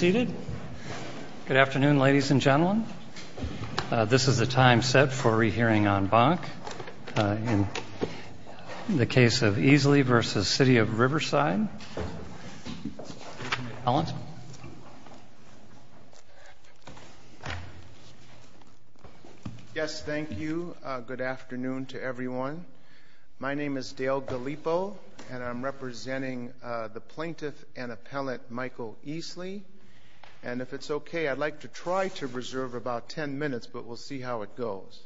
Good afternoon, ladies and gentlemen. This is the time set for a re-hearing on Bonk in the case of Easley v. City of Riverside. Yes, thank you. Good afternoon to everyone. My name is Dale Gallipo, and I'm representing the plaintiff and appellant Michael Easley. And if it's okay, I'd like to try to reserve about 10 minutes, but we'll see how it goes.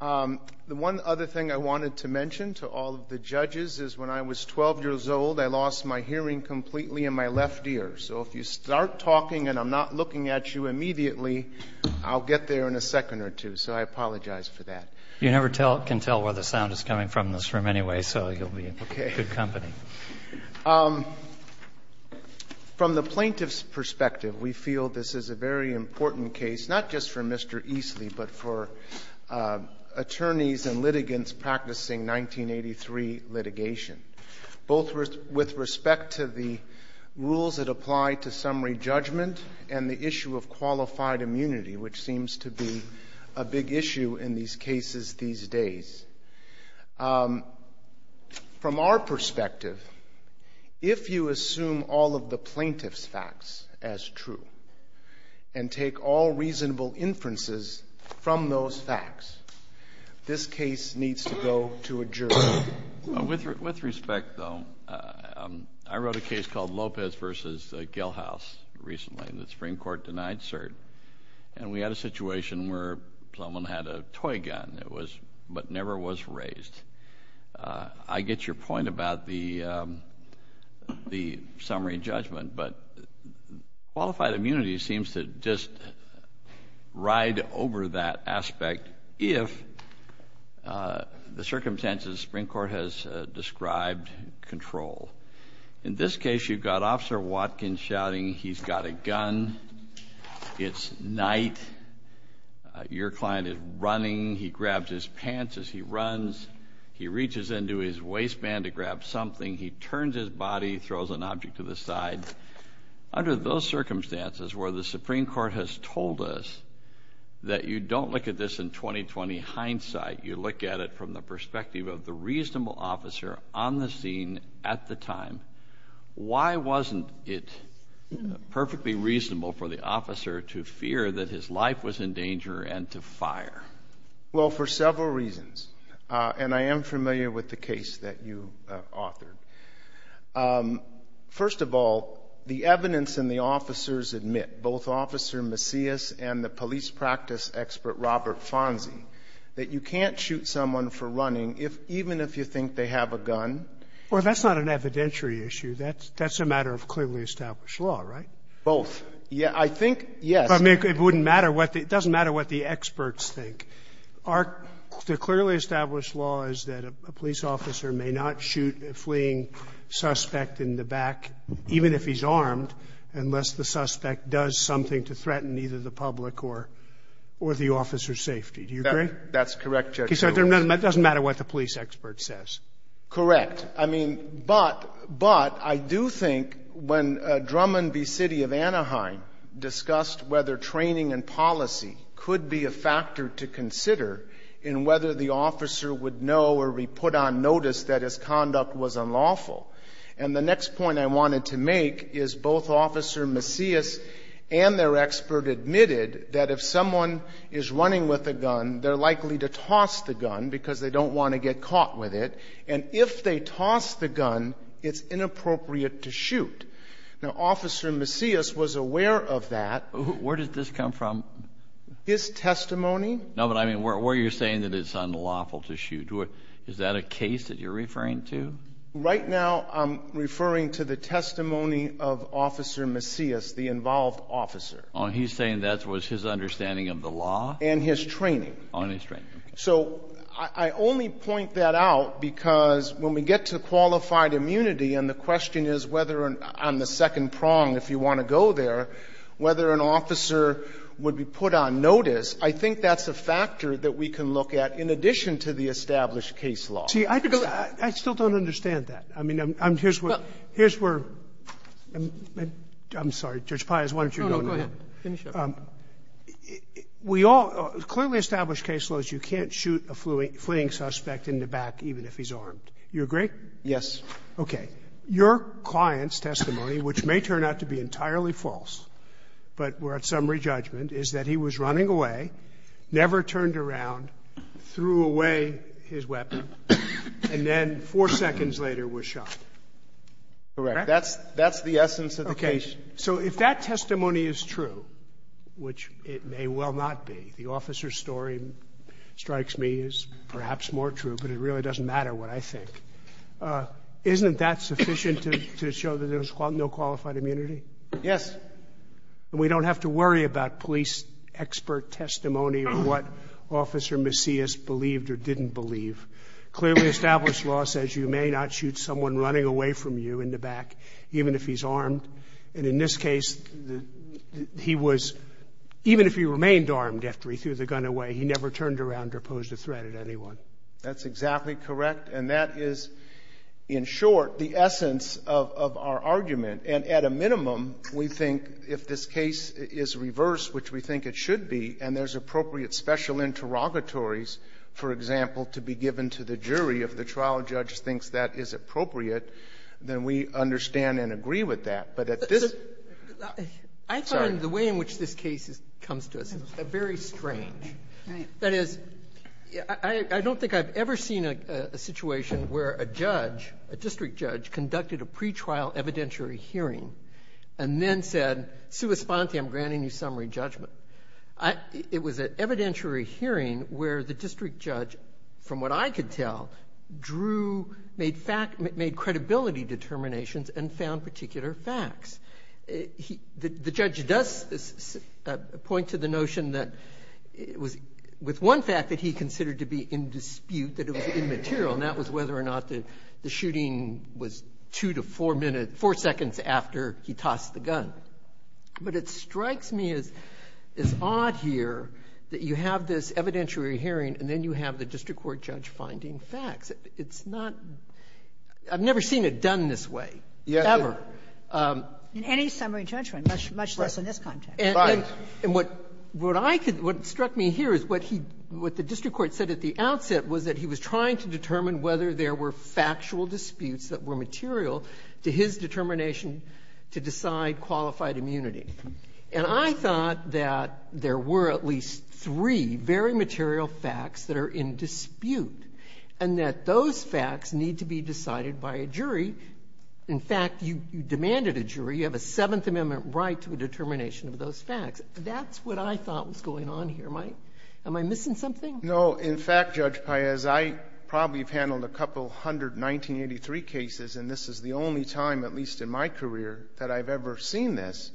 The one other thing I wanted to mention to all of the judges is when I was 12 years old, I lost my hearing completely in my left ear. So if you start talking and I'm not looking at you immediately, I'll get there in a second or two. So I apologize for that. You never can tell where the sound is coming from in this room anyway, so you'll be in good company. From the plaintiff's perspective, we feel this is a very important case, not just for Mr. Easley, but for attorneys and litigants practicing 1983 litigation, both with respect to the rules that apply to summary judgment and the issue of qualified immunity, which cases these days. From our perspective, if you assume all of the plaintiff's facts as true and take all reasonable inferences from those facts, this case needs to go to a jury. With respect, though, I wrote a case called Lopez v. Gelhaus recently. The Supreme Court denied cert, and we had a situation where someone had a toy gun, but never was raised. I get your point about the summary judgment, but qualified immunity seems to just ride over that aspect if the circumstances the Supreme Court has described control. In this case, you've got Officer Watkins shouting, he's got a gun, it's night, your client is running, he grabs his pants as he runs, he reaches into his waistband to grab something, he turns his body, throws an object to the side. Under those circumstances where the Supreme Court has told us that you don't look at this in 20-20 hindsight, you look at it from the perspective of the reasonable officer on the scene at the time, why wasn't it perfectly reasonable for the officer to fear that his life was in danger and to fire? Well, for several reasons, and I am familiar with the case that you authored. First of all, the evidence in the officers admit, both Officer Macias and the police practice expert Robert Fonzi, that you can't shoot someone for running even if you think they have a gun. Well, that's not an evidentiary issue. That's a matter of clearly established law, right? Both. I think, yes. I mean, it wouldn't matter what the – it doesn't matter what the experts think. Our clearly established law is that a police officer may not shoot a fleeing suspect in the back, even if he's armed, unless the suspect does something to threaten either the public or the officer's safety. Do you agree? That's correct, Judge. Okay, so it doesn't matter what the police expert says. Correct. I mean, but I do think when Drummond v. City of Anaheim discussed whether training and policy could be a factor to consider in whether the officer would know or be put on notice that his conduct was unlawful, and the next point I wanted to make is both Officer Macias and their expert admitted that if someone is running with a gun, they're likely to toss the gun because they don't want to get caught with it, and if they toss the gun, it's inappropriate to shoot. Now, Officer Macias was aware of that. Where did this come from? His testimony. No, but I mean, where you're saying that it's unlawful to shoot, is that a case that you're referring to? Right now I'm referring to the testimony of Officer Macias, the involved officer. Oh, he's saying that was his understanding of the law? And his training. And his training. So I only point that out because when we get to qualified immunity and the question is whether on the second prong, if you want to go there, whether an officer would be put on notice, I think that's a factor that we can look at in addition to the established case law. See, I still don't understand that. I mean, here's where we're at. I'm sorry. Judge Pius, why don't you go next? No, no, go ahead. Finish up. We all clearly established case laws, you can't shoot a fleeing suspect in the back even if he's armed. You agree? Yes. Okay. Your client's testimony, which may turn out to be entirely false, but we're at summary judgment, is that he was running away, never turned around, threw away his weapon, and then four seconds later was shot. Correct. That's the essence of the case. Okay. So if that testimony is true, which it may well not be, the officer's story strikes me as perhaps more true, but it really doesn't matter what I think, isn't that sufficient to show that there's no qualified immunity? Yes. And we don't have to worry about police expert testimony or what Officer Macias believed or didn't believe. Clearly established law says you may not shoot someone running away from you in the back even if he's armed. And in this case, he was, even if he remained armed after he threw the gun away, he never turned around or posed a threat at anyone. That's exactly correct. And that is, in short, the essence of our argument. And at a minimum, we think if this case is reversed, which we think it should be, and there's appropriate special interrogatories, for example, to be given to the jury if the trial judge thinks that is appropriate, then we understand and agree with that. But at this ---- I find the way in which this case comes to us very strange. Right. That is, I don't think I've ever seen a situation where a judge, a district judge, conducted a pretrial evidentiary hearing and then said, sua sponte, I'm granting you summary judgment. It was an evidentiary hearing where the district judge, from what I could tell, drew, made credibility determinations and found particular facts. The judge does point to the notion that it was with one fact that he considered to be in dispute that it was immaterial, and that was whether or not the shooting was two to four minutes or four seconds after he tossed the gun. But it strikes me as odd here that you have this evidentiary hearing and then you have the district court judge finding facts. It's not ---- I've never seen it done this way, ever. In any summary judgment, much less in this context. Right. And what I could ---- what struck me here is what he ---- what the district court judge said at the outset was that he was trying to determine whether there were factual disputes that were material to his determination to decide qualified immunity. And I thought that there were at least three very material facts that are in dispute, and that those facts need to be decided by a jury. In fact, you demanded a jury. You have a Seventh Amendment right to a determination of those facts. That's what I thought was going on here. Am I missing something? No. In fact, Judge Paez, I probably have handled a couple hundred 1983 cases, and this is the only time, at least in my career, that I've ever seen this.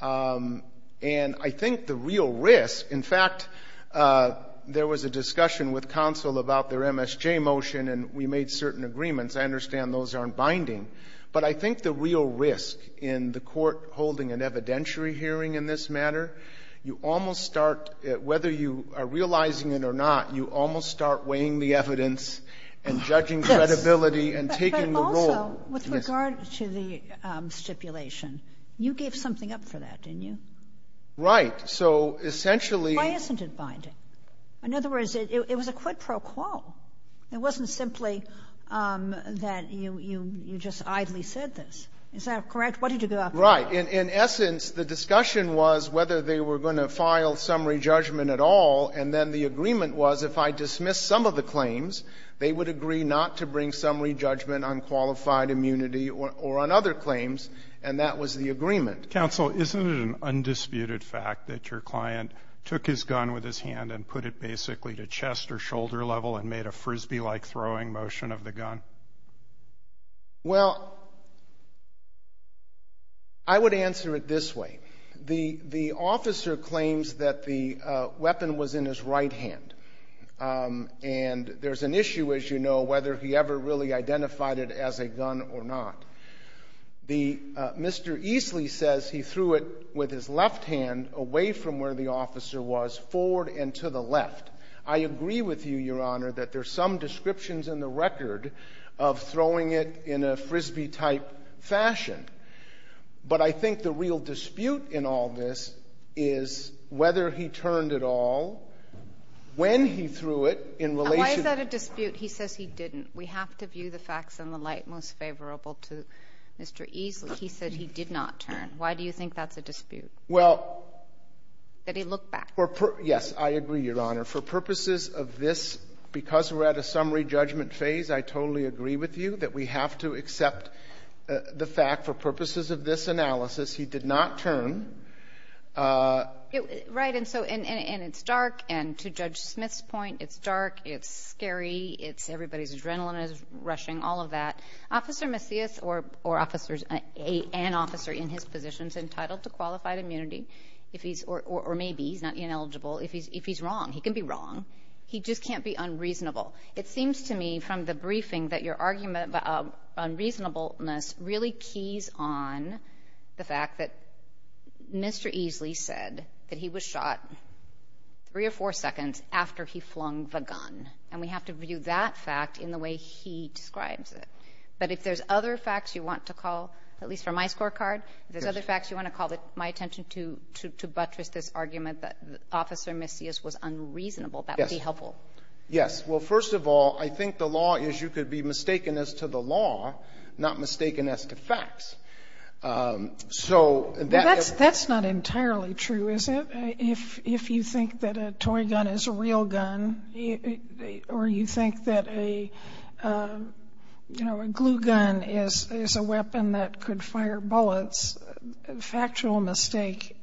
And I think the real risk ---- in fact, there was a discussion with counsel about their MSJ motion, and we made certain agreements. I understand those aren't binding. But I think the real risk in the court holding an evidentiary hearing in this matter, you almost start, whether you are realizing it or not, you almost start weighing the evidence and judging credibility and taking the role. Yes. But also, with regard to the stipulation, you gave something up for that, didn't you? Right. So essentially ---- Why isn't it binding? In other words, it was a quid pro quo. It wasn't simply that you just idly said this. Is that correct? What did you give up? Well, in essence, the discussion was whether they were going to file summary judgment at all, and then the agreement was if I dismiss some of the claims, they would agree not to bring summary judgment on qualified immunity or on other claims, and that was the agreement. Counsel, isn't it an undisputed fact that your client took his gun with his hand and put it basically to chest or shoulder level and made a Frisbee-like throwing motion of the gun? Well, I would answer it this way. The officer claims that the weapon was in his right hand, and there's an issue, as you know, whether he ever really identified it as a gun or not. Mr. Easley says he threw it with his left hand away from where the officer was, forward and to the left. I agree with you, Your Honor, that there's some descriptions in the record of throwing it in a Frisbee-type fashion, but I think the real dispute in all this is whether he turned at all when he threw it in relation to the fact that he did not turn. Why is that a dispute? He says he didn't. We have to view the facts in the light most favorable to Mr. Easley. He said he did not turn. Why do you think that's a dispute, that he looked back? Yes, I agree, Your Honor. For purposes of this, because we're at a summary judgment phase, I totally agree with you that we have to accept the fact, for purposes of this analysis, he did not turn. Right, and so it's dark, and to Judge Smith's point, it's dark, it's scary, everybody's adrenaline is rushing, all of that. Officer Macias, or an officer in his position, is entitled to qualified immunity if he's, or maybe he's not ineligible, if he's wrong. He can be wrong. He just can't be unreasonable. It seems to me from the briefing that your argument about unreasonableness really keys on the fact that Mr. Easley said that he was shot three or four seconds after he flung the gun, and we have to view that fact in the way he describes it. But if there's other facts you want to call, at least from my scorecard, if you're willing to buttress this argument that Officer Macias was unreasonable, that would be helpful. Yes. Well, first of all, I think the law is you could be mistaken as to the law, not mistaken as to facts. That's not entirely true, is it? If you think that a toy gun is a real gun, or you think that a glue gun is a factual mistake,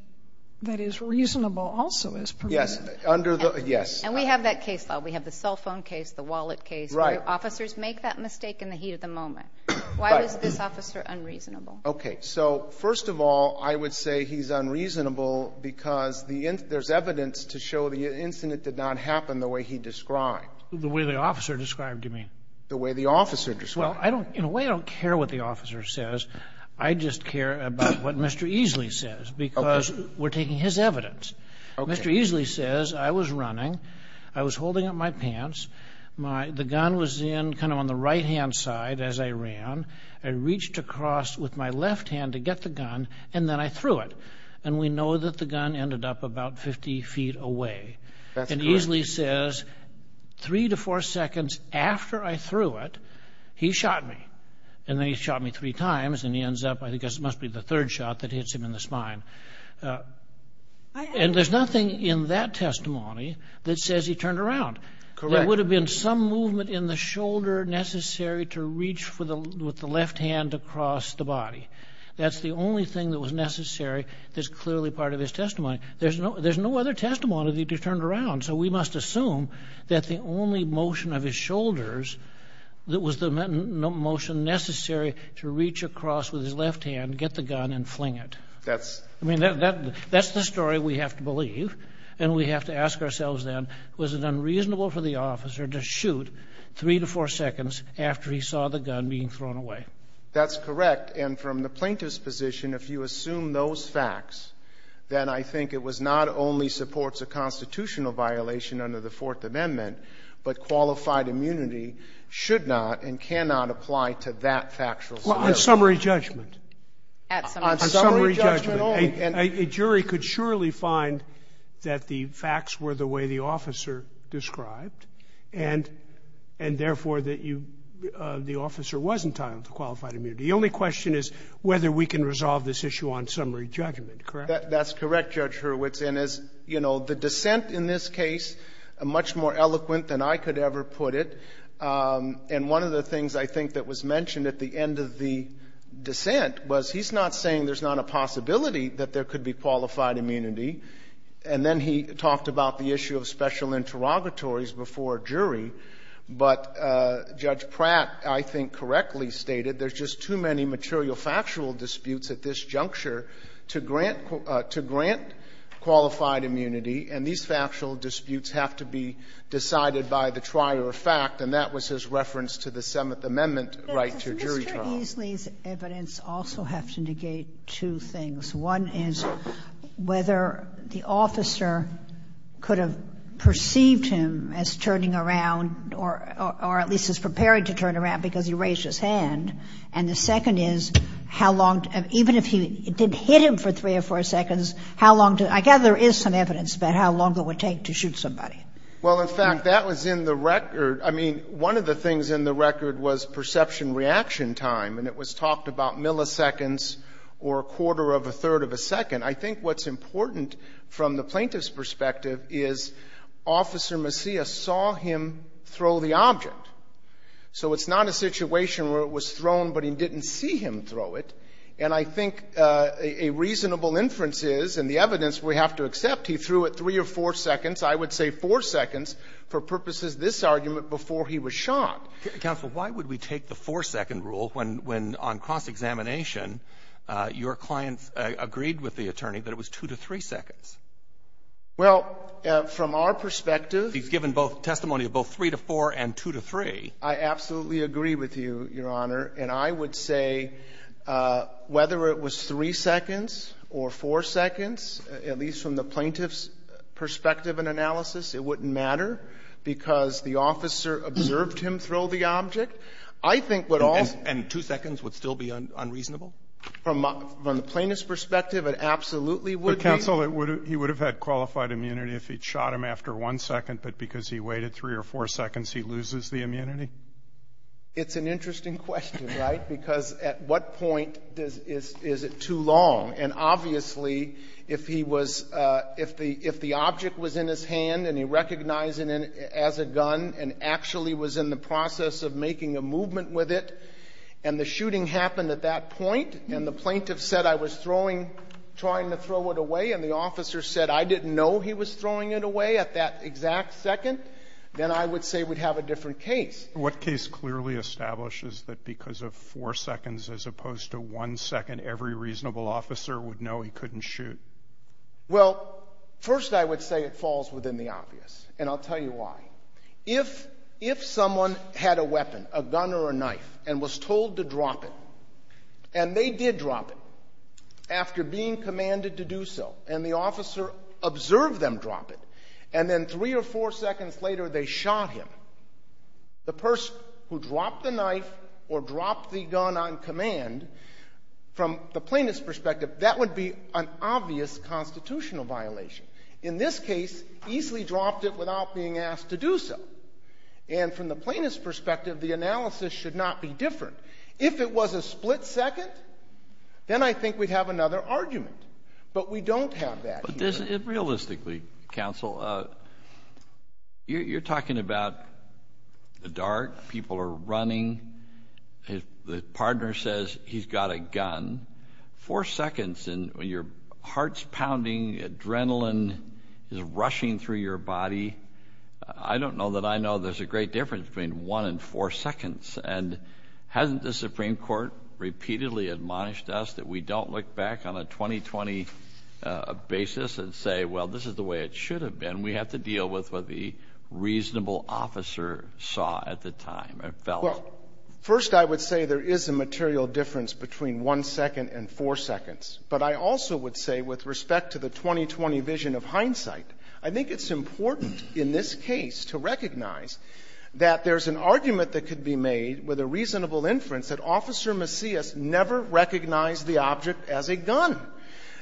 that is reasonable also is permissible. Yes. Under the, yes. And we have that case law. We have the cell phone case, the wallet case. Right. Where officers make that mistake in the heat of the moment. Right. Why was this officer unreasonable? Okay. So, first of all, I would say he's unreasonable because there's evidence to show the incident did not happen the way he described. The way the officer described, you mean? The way the officer described. Well, in a way, I don't care what the officer says. I just care about what Mr. Easley says because we're taking his evidence. Okay. Mr. Easley says, I was running. I was holding up my pants. The gun was in kind of on the right-hand side as I ran. I reached across with my left hand to get the gun, and then I threw it. That's correct. Mr. Easley says, three to four seconds after I threw it, he shot me. And then he shot me three times, and he ends up, I guess, it must be the third shot that hits him in the spine. And there's nothing in that testimony that says he turned around. Correct. There would have been some movement in the shoulder necessary to reach with the left hand across the body. That's the only thing that was necessary that's clearly part of his testimony. There's no other testimony that he turned around. So we must assume that the only motion of his shoulders was the motion necessary to reach across with his left hand, get the gun, and fling it. I mean, that's the story we have to believe, and we have to ask ourselves then, was it unreasonable for the officer to shoot three to four seconds after he saw the gun being thrown away? That's correct. And from the plaintiff's position, if you assume those facts, then I think it was not only supports a constitutional violation under the Fourth Amendment, but qualified immunity should not and cannot apply to that factual scenario. On summary judgment. On summary judgment only. A jury could surely find that the facts were the way the officer described, and therefore the officer wasn't entitled to qualified immunity. The only question is whether we can resolve this issue on summary judgment. Correct? That's correct, Judge Hurwitz. And as you know, the dissent in this case, much more eloquent than I could ever put it, and one of the things I think that was mentioned at the end of the dissent was he's not saying there's not a possibility that there could be qualified immunity. And then he talked about the issue of special interrogatories before a jury. But Judge Pratt, I think, correctly stated there's just too many material factual disputes at this juncture to grant qualified immunity, and these factual disputes have to be decided by the trier of fact. And that was his reference to the Seventh Amendment right to jury trial. But does Mr. Eesley's evidence also have to negate two things? One is whether the officer could have perceived him as turning around or at least as preparing to turn around because he raised his hand. And the second is how long, even if he did hit him for three or four seconds, how long did he, I gather there is some evidence about how long it would take to shoot somebody. Well, in fact, that was in the record. I mean, one of the things in the record was perception reaction time, and it was talked about milliseconds or a quarter of a third of a second. I think what's important from the plaintiff's perspective is Officer Messiah saw him throw the object. So it's not a situation where it was thrown, but he didn't see him throw it. And I think a reasonable inference is, and the evidence we have to accept, he threw it three or four seconds, I would say four seconds, for purposes of this argument before he was shot. Counsel, why would we take the four-second rule when, on cross-examination, your clients agreed with the attorney that it was two to three seconds? Well, from our perspective. He's given testimony of both three to four and two to three. I absolutely agree with you, Your Honor. And I would say whether it was three seconds or four seconds, at least from the plaintiff's perspective and analysis, it wouldn't matter because the officer observed him throw the object. And two seconds would still be unreasonable? From the plaintiff's perspective, it absolutely would be. But, counsel, he would have had qualified immunity if he'd shot him after one second, but because he waited three or four seconds, he loses the immunity? It's an interesting question, right? Because at what point is it too long? And obviously, if the object was in his hand and he recognized it as a gun and actually was in the process of making a movement with it and the shooting happened at that point and the plaintiff said, I was trying to throw it away and the officer said, I didn't know he was throwing it away at that exact second, then I would say we'd have a different case. What case clearly establishes that because of four seconds as opposed to one second, every reasonable officer would know he couldn't shoot? Well, first I would say it falls within the obvious, and I'll tell you why. If someone had a weapon, a gun or a knife, and was told to drop it, and they did drop it after being commanded to do so, and the officer observed them drop it, and then three or four seconds later they shot him, the person who dropped the knife or dropped the gun on command, from the plaintiff's perspective, that would be an obvious constitutional violation. In this case, easily dropped it without being asked to do so. And from the plaintiff's perspective, the analysis should not be different. If it was a split second, then I think we'd have another argument. But we don't have that here. Realistically, counsel, you're talking about the dart, people are running, the partner says he's got a gun, four seconds and your heart's pounding, adrenaline is rushing through your body. I don't know that I know there's a great difference between one and four seconds. And hasn't the Supreme Court repeatedly admonished us that we don't look back on a 20-20 basis and say, well, this is the way it should have been? We have to deal with what the reasonable officer saw at the time and felt. Well, first I would say there is a material difference between one second and four seconds. But I also would say with respect to the 20-20 vision of hindsight, I think it's important in this case to recognize that there's an argument that could be made with a reasonable inference that Officer Macias never recognized the object as a gun.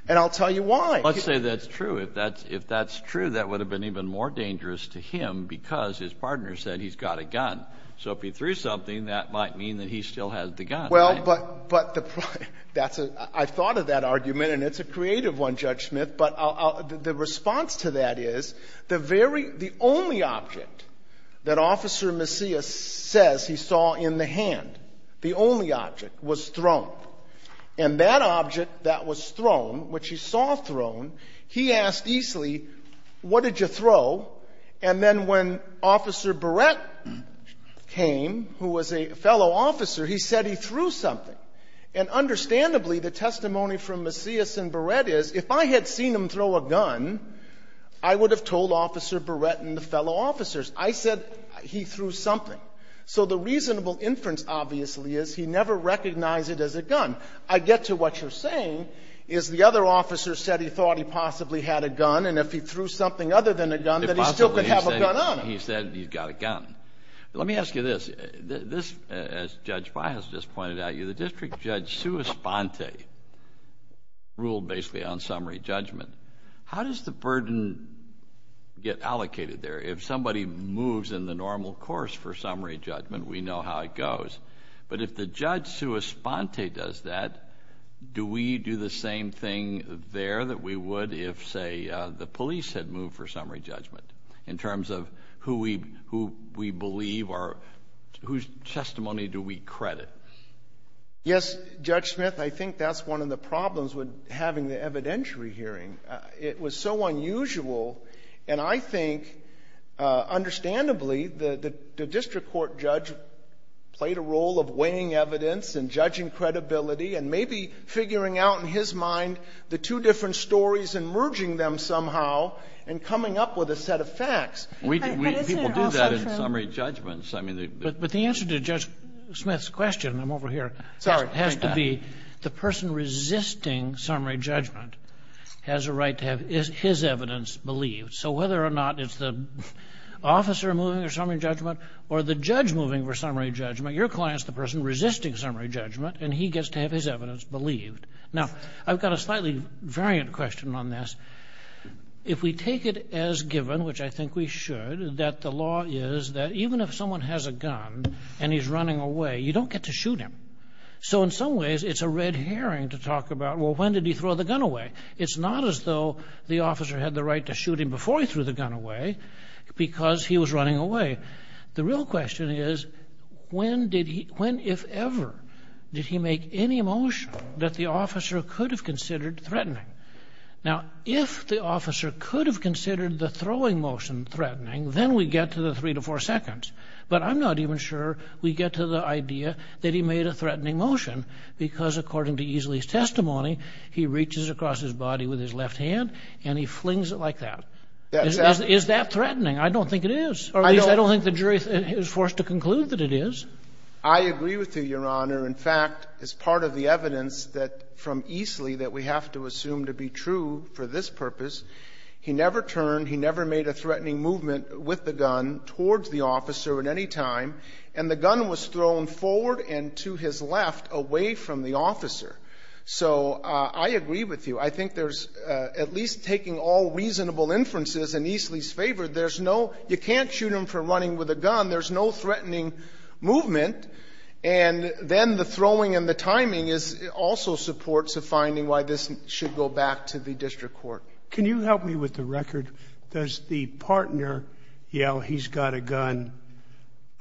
And I'll tell you why. Let's say that's true. If that's true, that would have been even more dangerous to him because his partner said he's got a gun. So if he threw something, that might mean that he still has the gun. Well, but I thought of that argument, and it's a creative one, Judge Smith. But the response to that is the only object that Officer Macias says he saw in the hand, the only object, was thrown. And that object that was thrown, which he saw thrown, he asked easily, what did you throw? And then when Officer Barrett came, who was a fellow officer, he said he threw something. And understandably, the testimony from Macias and Barrett is, if I had seen him throw a gun, I would have told Officer Barrett and the fellow officers. I said he threw something. So the reasonable inference obviously is he never recognized it as a gun. I get to what you're saying, is the other officer said he thought he possibly had a gun, and if he threw something other than a gun, then he still could have a gun on him. He said he's got a gun. Let me ask you this. This, as Judge Bias just pointed out to you, the District Judge Suosponte ruled basically on summary judgment. How does the burden get allocated there? If somebody moves in the normal course for summary judgment, we know how it goes. But if the Judge Suosponte does that, do we do the same thing there that we would if, say, the police had moved for summary judgment in terms of who we believe or whose testimony do we credit? Yes, Judge Smith, I think that's one of the problems with having the evidentiary hearing. It was so unusual, and I think understandably the district court judge played a role of weighing evidence and judging credibility and maybe figuring out in his mind the two different stories and merging them somehow and coming up with a set of facts. But isn't it also true? People do that in summary judgments. But the answer to Judge Smith's question, I'm over here, has to be the person resisting summary judgment has a right to have his evidence believed. So whether or not it's the officer moving for summary judgment or the judge moving for summary judgment, your client's the person resisting summary judgment, and he gets to have his evidence believed. Now, I've got a slightly variant question on this. If we take it as given, which I think we should, that the law is that even if someone has a gun and he's running away, you don't get to shoot him. So in some ways, it's a red herring to talk about, well, when did he throw the gun away? It's not as though the officer had the right to shoot him before he threw the gun away because he was running away. The real question is, when, if ever, did he make any motion that the officer could have considered threatening? Now, if the officer could have considered the throwing motion threatening, then we get to the three to four seconds. But I'm not even sure we get to the idea that he made a threatening motion because according to Easley's testimony, he reaches across his body with his left hand and he flings it like that. Is that threatening? I don't think it is, or at least I don't think the jury is forced to conclude that it is. I agree with you, Your Honor. In fact, as part of the evidence from Easley that we have to assume to be true for this purpose, he never turned, he never made a threatening movement with the gun towards the officer at any time, and the gun was thrown forward and to his left, away from the officer. So I agree with you. I think there's, at least taking all reasonable inferences in Easley's favor, there's no ‑‑ you can't shoot him for running with a gun. There's no threatening movement. And then the throwing and the timing is also supports a finding why this should go back to the district court. Can you help me with the record? Does the partner yell, he's got a gun?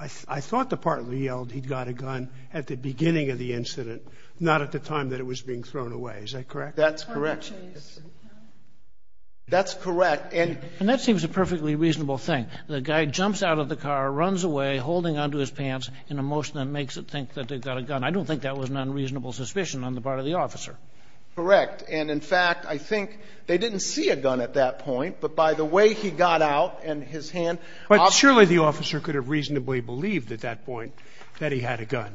I thought the partner yelled, he's got a gun, at the beginning of the incident, not at the time that it was being thrown away. Is that correct? That's correct. That's correct. And that seems a perfectly reasonable thing. The guy jumps out of the car, runs away, holding onto his pants in a motion that makes it think that they've got a gun. I don't think that was an unreasonable suspicion on the part of the officer. Correct. And, in fact, I think they didn't see a gun at that point. But by the way he got out and his hand ‑‑ But surely the officer could have reasonably believed at that point that he had a gun.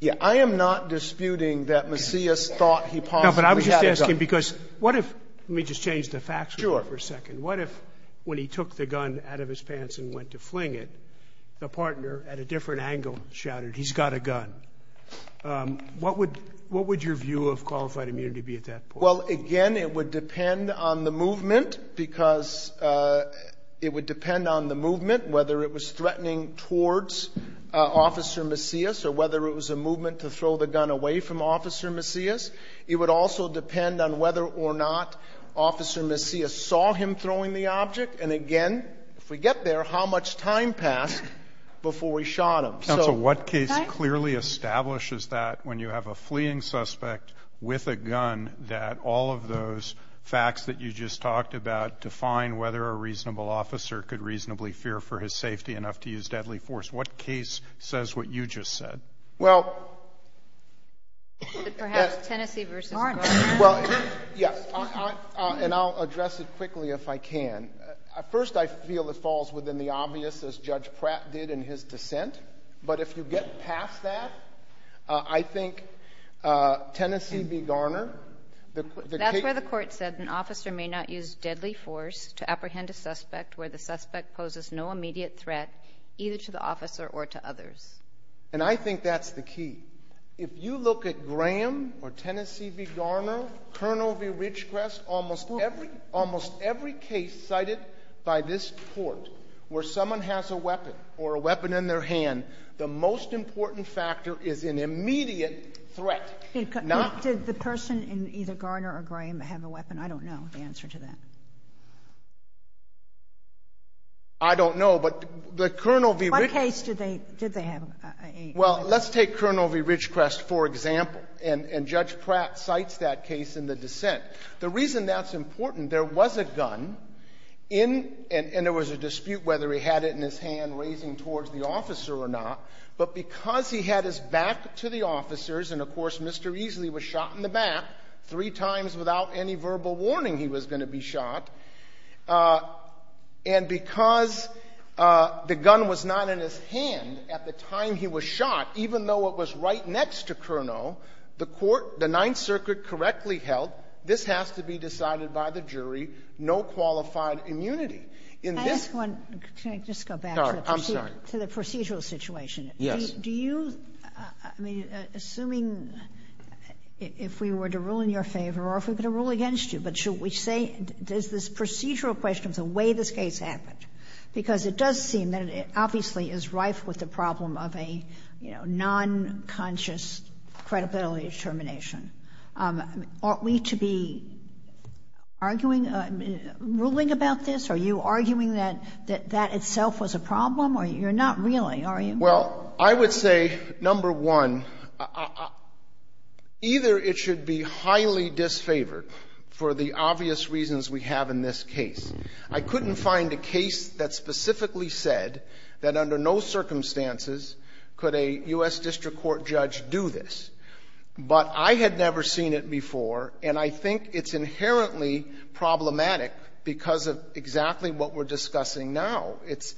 Yeah, I am not disputing that Macias thought he possibly had a gun. No, but I was just asking because what if ‑‑ let me just change the facts for a second. Sure. What if when he took the gun out of his pants and went to fling it, the partner at a different angle shouted, he's got a gun? What would your view of qualified immunity be at that point? Well, again, it would depend on the movement because it would depend on the movement, whether it was threatening towards Officer Macias or whether it was a movement to throw the gun away from Officer Macias. It would also depend on whether or not Officer Macias saw him throwing the object. And, again, if we get there, how much time passed before he shot him. Counsel, what case clearly establishes that when you have a fleeing suspect with a gun that all of those facts that you just talked about define whether a reasonable officer could reasonably fear for his safety enough to use deadly force? What case says what you just said? Well, yes, and I'll address it quickly if I can. First, I feel it falls within the obvious as Judge Pratt did in his dissent. But if you get past that, I think Tennessee v. Garner. That's where the court said an officer may not use deadly force to apprehend a suspect where the suspect poses no immediate threat either to the officer or to others. And I think that's the key. If you look at Graham or Tennessee v. Garner, Colonel v. Ridgecrest, almost every case cited by this court where someone has a weapon or a weapon in their hand, the most important factor is an immediate threat. Did the person in either Garner or Graham have a weapon? I don't know the answer to that. I don't know, but the Colonel v. Ridgecrest. What case did they have a weapon? Well, let's take Colonel v. Ridgecrest for example, and Judge Pratt cites that case in the dissent. The reason that's important, there was a gun, and there was a dispute whether he had it in his hand raising towards the officer or not, but because he had his back to the officers, and of course Mr. Easley was shot in the back three times without any verbal warning he was going to be shot, and because the gun was not in his hand at the time he was shot, even though it was right next to Curnow, the court, the Ninth Circuit correctly held, this has to be decided by the jury, no qualified immunity. Can I ask one? Can I just go back to the procedural situation? Yes. Do you, I mean, assuming if we were to rule in your favor or if we were going to rule against you, but should we say, does this procedural question of the way this case happened, because it does seem that it obviously is rife with the problem of a, you know, nonconscious credibility determination, ought we to be arguing, ruling about this? Are you arguing that that itself was a problem, or you're not really, are you? Well, I would say, number one, either it should be highly disfavored for the obvious reasons we have in this case. I couldn't find a case that specifically said that under no circumstances could a U.S. District Court judge do this, but I had never seen it before, and I think it's inherently problematic because of exactly what we're discussing now. It's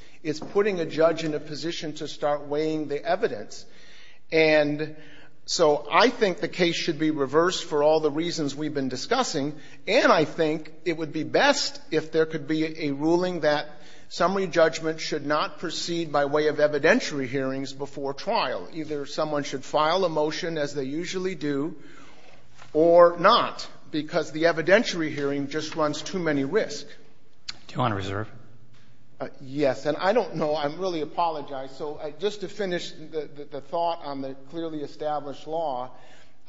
putting a judge in a position to start weighing the evidence. And so I think the case should be reversed for all the reasons we've been discussing. And I think it would be best if there could be a ruling that summary judgment should not proceed by way of evidentiary hearings before trial. Either someone should file a motion, as they usually do, or not, because the evidentiary hearing just runs too many risks. Do you want to reserve? Yes, and I don't know. I really apologize. So just to finish the thought on the clearly established law,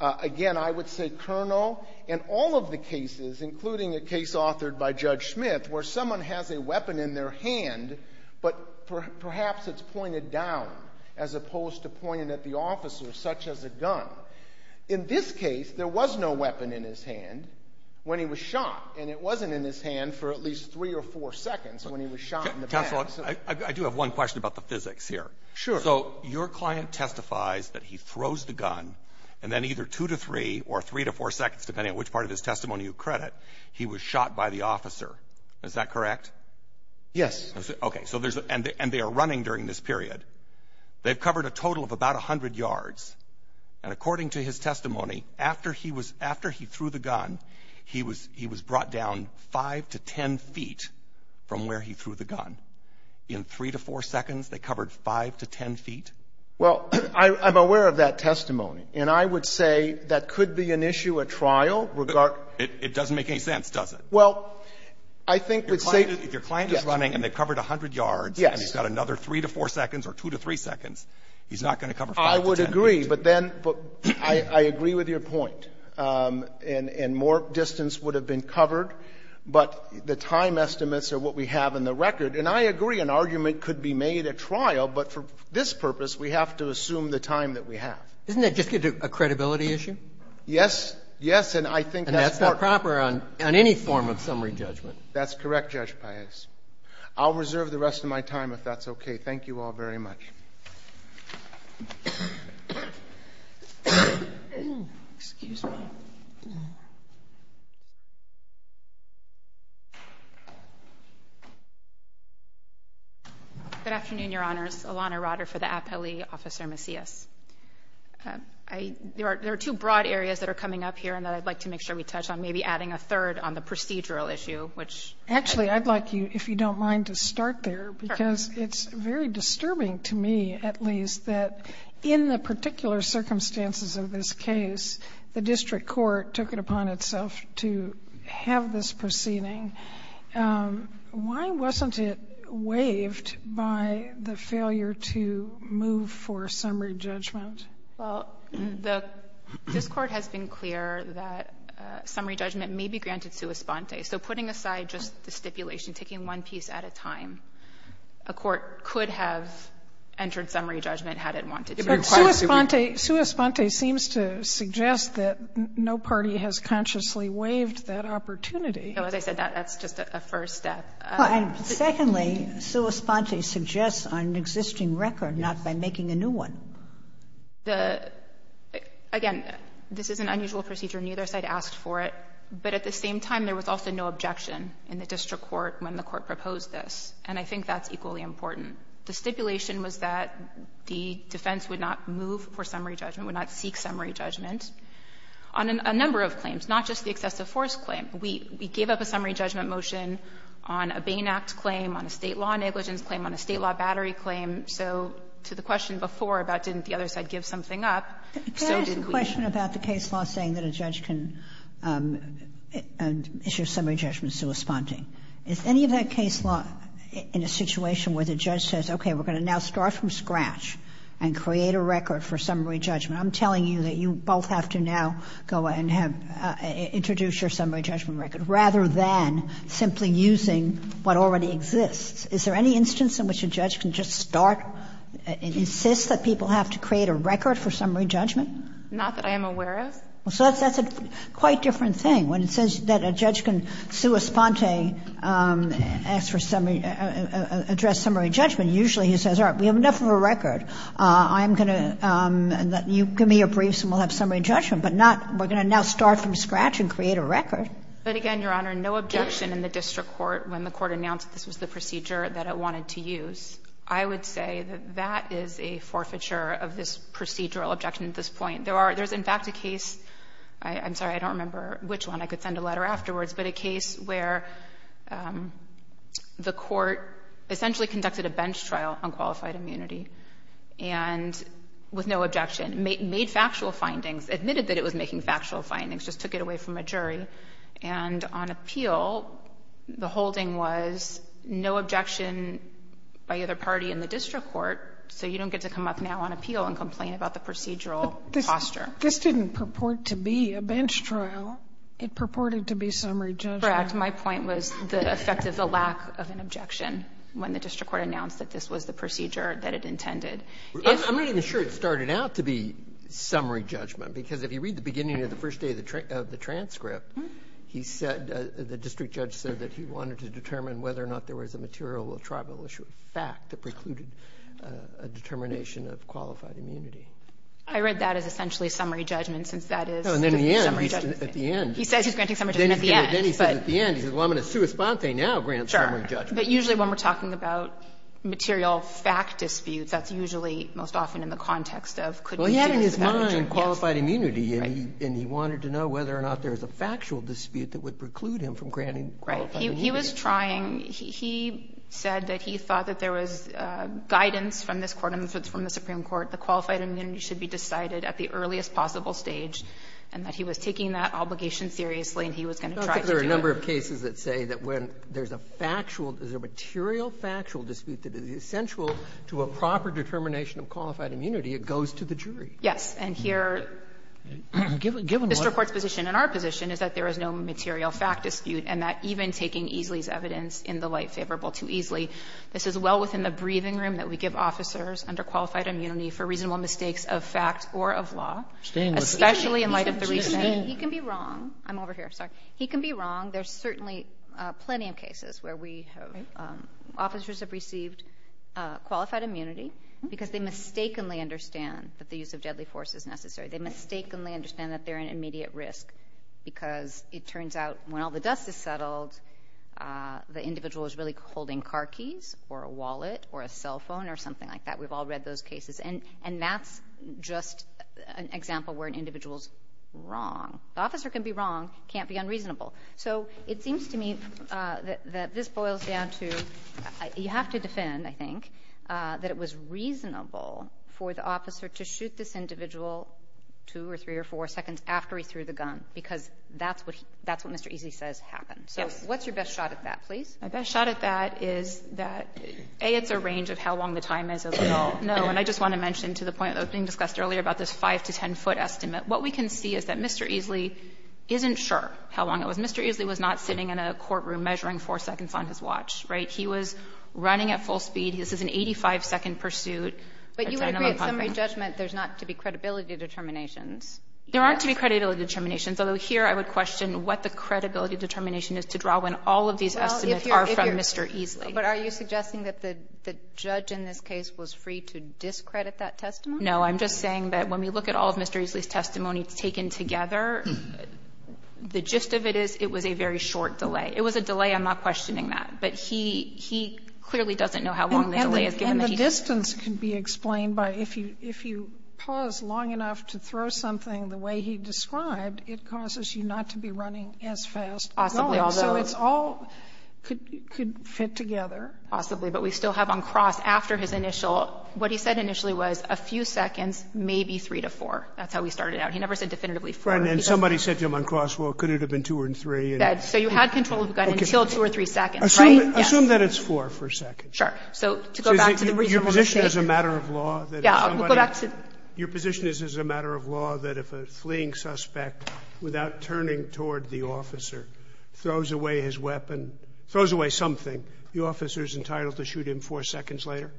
again, I would say, Colonel, in all of the cases, including a case authored by Judge Smith, where someone has a weapon in their hand, but perhaps it's pointed down as opposed to pointed at the officer, such as a gun. In this case, there was no weapon in his hand when he was shot, and it wasn't in his hand for at least three or four seconds when he was shot in the back. Counsel, I do have one question about the physics here. Sure. So your client testifies that he throws the gun, and then either two to three or three to four seconds, depending on which part of his testimony you credit, he was shot by the officer. Is that correct? Yes. Okay. And they are running during this period. They've covered a total of about 100 yards, and according to his testimony, after he threw the gun, he was brought down five to ten feet from where he threw the gun. In three to four seconds, they covered five to ten feet? Well, I'm aware of that testimony, and I would say that could be an issue at trial. It doesn't make any sense, does it? Well, I think we'd say yes. If your client is running and they've covered 100 yards and he's got another three to four seconds or two to three seconds, he's not going to cover five to ten feet. I would agree, but then I agree with your point. And more distance would have been covered, but the time estimates are what we have in the record. And I agree an argument could be made at trial, but for this purpose, we have to assume the time that we have. Isn't that just a credibility issue? Yes. Yes, and I think that's part of it. And that's not proper on any form of summary judgment. That's correct, Judge Paez. I'll reserve the rest of my time if that's okay. Thank you all very much. Excuse me. Good afternoon, Your Honors. Alana Rotter for the appellee, Officer Macias. There are two broad areas that are coming up here and that I'd like to make sure we touch on, maybe adding a third on the procedural issue. Actually, I'd like you, if you don't mind, to start there because it's very disturbing to me, at least, that in the particular circumstances of this case, the district court took it upon itself to have this proceeding. Why wasn't it waived by the failure to move for summary judgment? Well, this Court has been clear that summary judgment may be granted sua sponte. So putting aside just the stipulation, taking one piece at a time, a court could have entered summary judgment had it wanted to. But sua sponte seems to suggest that no party has consciously waived that opportunity. As I said, that's just a first step. Secondly, sua sponte suggests on an existing record, not by making a new one. Again, this is an unusual procedure. Neither side asked for it. But at the same time, there was also no objection in the district court when the court proposed this. And I think that's equally important. The stipulation was that the defense would not move for summary judgment, would not seek summary judgment on a number of claims, not just the excessive force claim. We gave up a summary judgment motion on a Bain Act claim, on a State law negligence claim, on a State law battery claim. So to the question before about didn't the other side give something up, so did we. The question about the case law saying that a judge can issue summary judgment sua sponte, is any of that case law in a situation where the judge says, okay, we're going to now start from scratch and create a record for summary judgment? I'm telling you that you both have to now go and have to introduce your summary judgment record, rather than simply using what already exists. Is there any instance in which a judge can just start and insist that people have to create a record for summary judgment? Not that I am aware of. So that's a quite different thing. When it says that a judge can sua sponte, ask for summary, address summary judgment, usually he says, all right, we have enough of a record. I'm going to, you give me your briefs and we'll have summary judgment. But not, we're going to now start from scratch and create a record. But again, Your Honor, no objection in the district court when the court announced this was the procedure that it wanted to use. I would say that that is a forfeiture of this procedural objection at this point. There's, in fact, a case, I'm sorry, I don't remember which one. I could send a letter afterwards. But a case where the court essentially conducted a bench trial on qualified immunity and with no objection, made factual findings, admitted that it was making factual findings, just took it away from a jury. And on appeal, the holding was no objection by either party in the district court. So you don't get to come up now on appeal and complain about the procedural posture. But this didn't purport to be a bench trial. It purported to be summary judgment. Correct. My point was the effect of the lack of an objection when the district court announced that this was the procedure that it intended. I'm not even sure it started out to be summary judgment, because if you read the first day of the transcript, he said, the district judge said that he wanted to determine whether or not there was a material or tribal issue of fact that precluded a determination of qualified immunity. I read that as essentially summary judgment, since that is summary judgment. No, and then at the end. He says he's granting summary judgment at the end. Then he says at the end, he says, well, I'm going to sui sponte now grant summary judgment. Sure. But usually when we're talking about material fact disputes, that's usually most often in the context of could we do this without an objection. He was granting qualified immunity, and he wanted to know whether or not there was a factual dispute that would preclude him from granting qualified immunity. Right. He was trying. He said that he thought that there was guidance from this court and from the Supreme Court that qualified immunity should be decided at the earliest possible stage, and that he was taking that obligation seriously, and he was going to try to do it. There are a number of cases that say that when there's a factual, there's a material factual dispute that is essential to a proper determination of qualified immunity, it goes to the jury. Yes. And here Mr. Court's position and our position is that there is no material fact dispute, and that even taking Easley's evidence in the light favorable to Easley, this is well within the breathing room that we give officers under qualified immunity for reasonable mistakes of fact or of law, especially in light of the reasoning. He can be wrong. I'm over here. Sorry. He can be wrong. There's certainly plenty of cases where we have officers have received qualified immunity because they mistakenly understand that the use of deadly force is necessary. They mistakenly understand that they're in immediate risk because it turns out when all the dust is settled, the individual is really holding car keys or a wallet or a cell phone or something like that. We've all read those cases, and that's just an example where an individual's wrong. The officer can be wrong. He can't be unreasonable. So it seems to me that this boils down to you have to defend, I think, that it was reasonable for the officer to shoot this individual 2 or 3 or 4 seconds after he threw the gun, because that's what Mr. Easley says happened. Yes. So what's your best shot at that, please? My best shot at that is that, A, it's a range of how long the time is, as we all know, and I just want to mention to the point that was being discussed earlier about this 5 to 10-foot estimate. What we can see is that Mr. Easley isn't sure how long it was. Mr. Easley was not sitting in a courtroom measuring 4 seconds on his watch, right? He was running at full speed. This is an 85-second pursuit. But you would agree at summary judgment there's not to be credibility determinations. There aren't to be credibility determinations, although here I would question what the credibility determination is to draw when all of these estimates are from Mr. Easley. No, I'm just saying that when we look at all of Mr. Easley's testimony taken together, the gist of it is it was a very short delay. It was a delay. I'm not questioning that. But he clearly doesn't know how long the delay is, given that he's here. And the distance can be explained by if you pause long enough to throw something the way he described, it causes you not to be running as fast. Possibly. So it's all could fit together. Possibly. But we still have on cross after his initial, what he said initially was a few seconds, maybe three to four. That's how he started out. He never said definitively four. And somebody said to him on cross, well, could it have been two or three? So you had control of the gun until two or three seconds, right? Assume that it's four for a second. Sure. So to go back to the reasonable mistake. Your position is as a matter of law that if a fleeing suspect without turning toward the officer throws away his weapon, throws away something, the officer is entitled to shoot him four seconds later?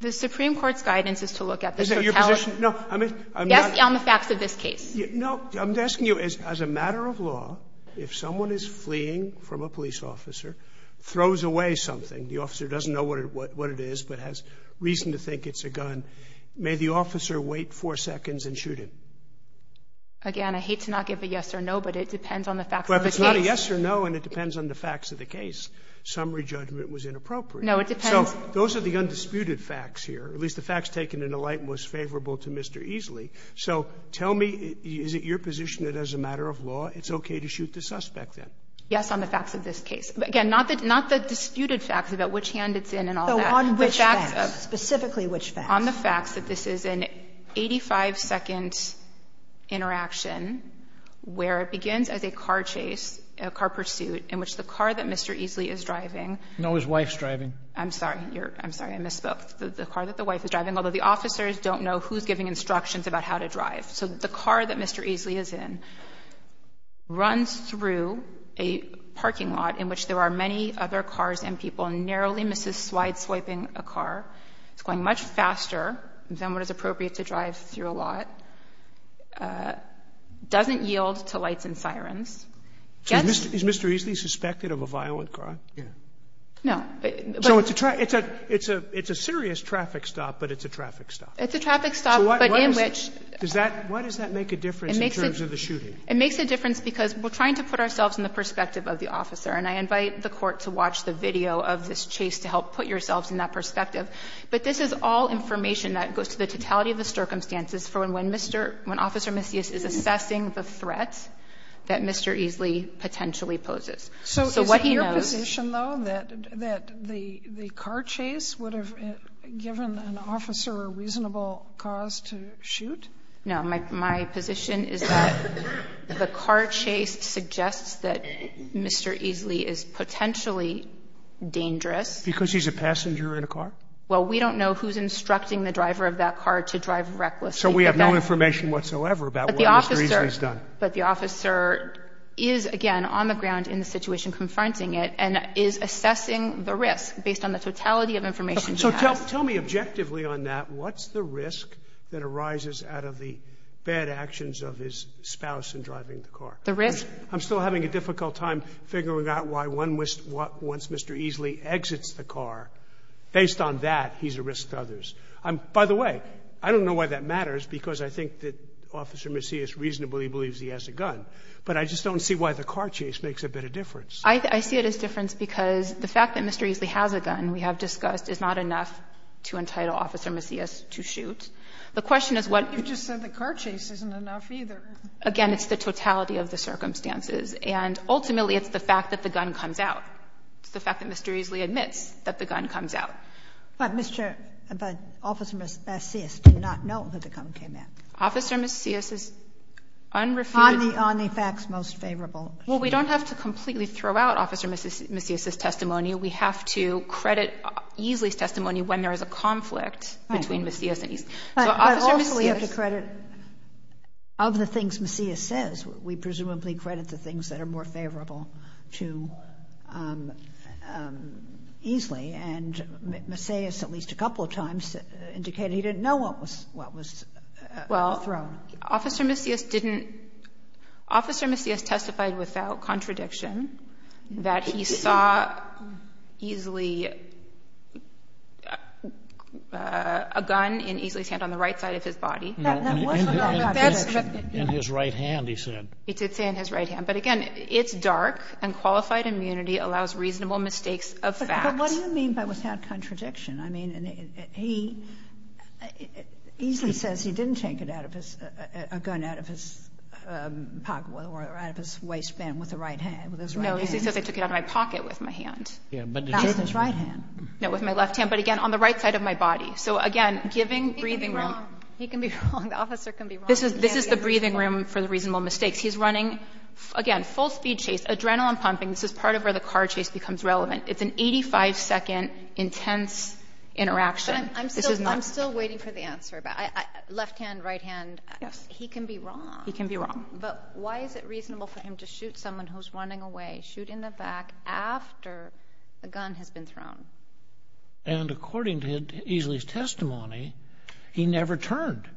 The Supreme Court's guidance is to look at this. Is that your position? No. I'm asking on the facts of this case. No. I'm asking you as a matter of law, if someone is fleeing from a police officer, throws away something, the officer doesn't know what it is, but has reason to think it's a gun, may the officer wait four seconds and shoot him? Again, I hate to not give a yes or no, but it depends on the facts of the case. Well, if it's not a yes or no and it depends on the facts of the case, summary judgment was inappropriate. No, it depends. So those are the undisputed facts here, at least the facts taken in a light most favorable to Mr. Easley. So tell me, is it your position that as a matter of law it's okay to shoot the suspect then? Yes, on the facts of this case. Again, not the disputed facts about which hand it's in and all that. So on which facts? Specifically which facts? On the facts that this is an 85-second interaction where it begins as a car chase, a car pursuit, in which the car that Mr. Easley is driving. No, his wife's driving. I'm sorry. I misspoke. The car that the wife is driving, although the officers don't know who's giving instructions about how to drive. So the car that Mr. Easley is in runs through a parking lot in which there are many other cars and people and narrowly misses swide swiping a car. It's going much faster than what is appropriate to drive through a lot, doesn't yield to lights and sirens. Is Mr. Easley suspected of a violent crime? No. So it's a serious traffic stop, but it's a traffic stop. It's a traffic stop, but in which... Why does that make a difference in terms of the shooting? It makes a difference because we're trying to put ourselves in the perspective of the officer. And I invite the court to watch the video of this chase to help put yourselves in that perspective. But this is all information that goes to the totality of the circumstances for when Officer Macias is assessing the threat that Mr. Easley potentially poses. So is it your position, though, that the car chase would have given an officer a reasonable cause to shoot? No. My position is that the car chase suggests that Mr. Easley is potentially dangerous. Because he's a passenger in a car? Well, we don't know who's instructing the driver of that car to drive recklessly. So we have no information whatsoever about what Mr. Easley has done. But the officer is, again, on the ground in the situation confronting it and is assessing the risk based on the totality of information he has. So tell me objectively on that. What's the risk that arises out of the bad actions of his spouse in driving the car? The risk... I'm still having a difficult time figuring out why once Mr. Easley exits the car, based on that, he's a risk to others. By the way, I don't know why that matters, because I think that Officer Macias reasonably believes he has a gun. But I just don't see why the car chase makes a bit of difference. I see it as difference because the fact that Mr. Easley has a gun, we have discussed, is not enough to entitle Officer Macias to shoot. The question is what... But you just said the car chase isn't enough either. Again, it's the totality of the circumstances. And ultimately, it's the fact that the gun comes out. It's the fact that Mr. Easley admits that the gun comes out. But Mr. — but Officer Macias did not know that the gun came out. Officer Macias is unrefuted... On the facts most favorable. Well, we don't have to completely throw out Officer Macias' testimony. We have to credit Easley's testimony when there is a conflict between Macias and Easley. But also we have to credit, of the things Macias says, we presumably credit the things that are more favorable to Easley. And Macias, at least a couple of times, indicated he didn't know what was... Well, Officer Macias didn't... Officer Macias testified without contradiction that he saw Easley... a gun in Easley's hand on the right side of his body. That wasn't a contradiction. In his right hand, he said. He did say in his right hand. But again, it's dark and qualified immunity allows reasonable mistakes of fact. But what do you mean by without contradiction? I mean, he — Easley says he didn't take it out of his — a gun out of his pocket or out of his waistband with his right hand. No, Easley says I took it out of my pocket with my hand. Yeah, but did you take it with his right hand? No, with my left hand, but again, on the right side of my body. So again, giving breathing room... He can be wrong. He can be wrong. The officer can be wrong. This is the breathing room for the reasonable mistakes. He's running, again, full speed chase, adrenaline pumping. This is part of where the car chase becomes relevant. It's an 85-second intense interaction. But I'm still waiting for the answer. Left hand, right hand. Yes. He can be wrong. He can be wrong. But why is it reasonable for him to shoot someone who's running away, shoot in the back after the gun has been thrown? And according to Easley's testimony, he never turned.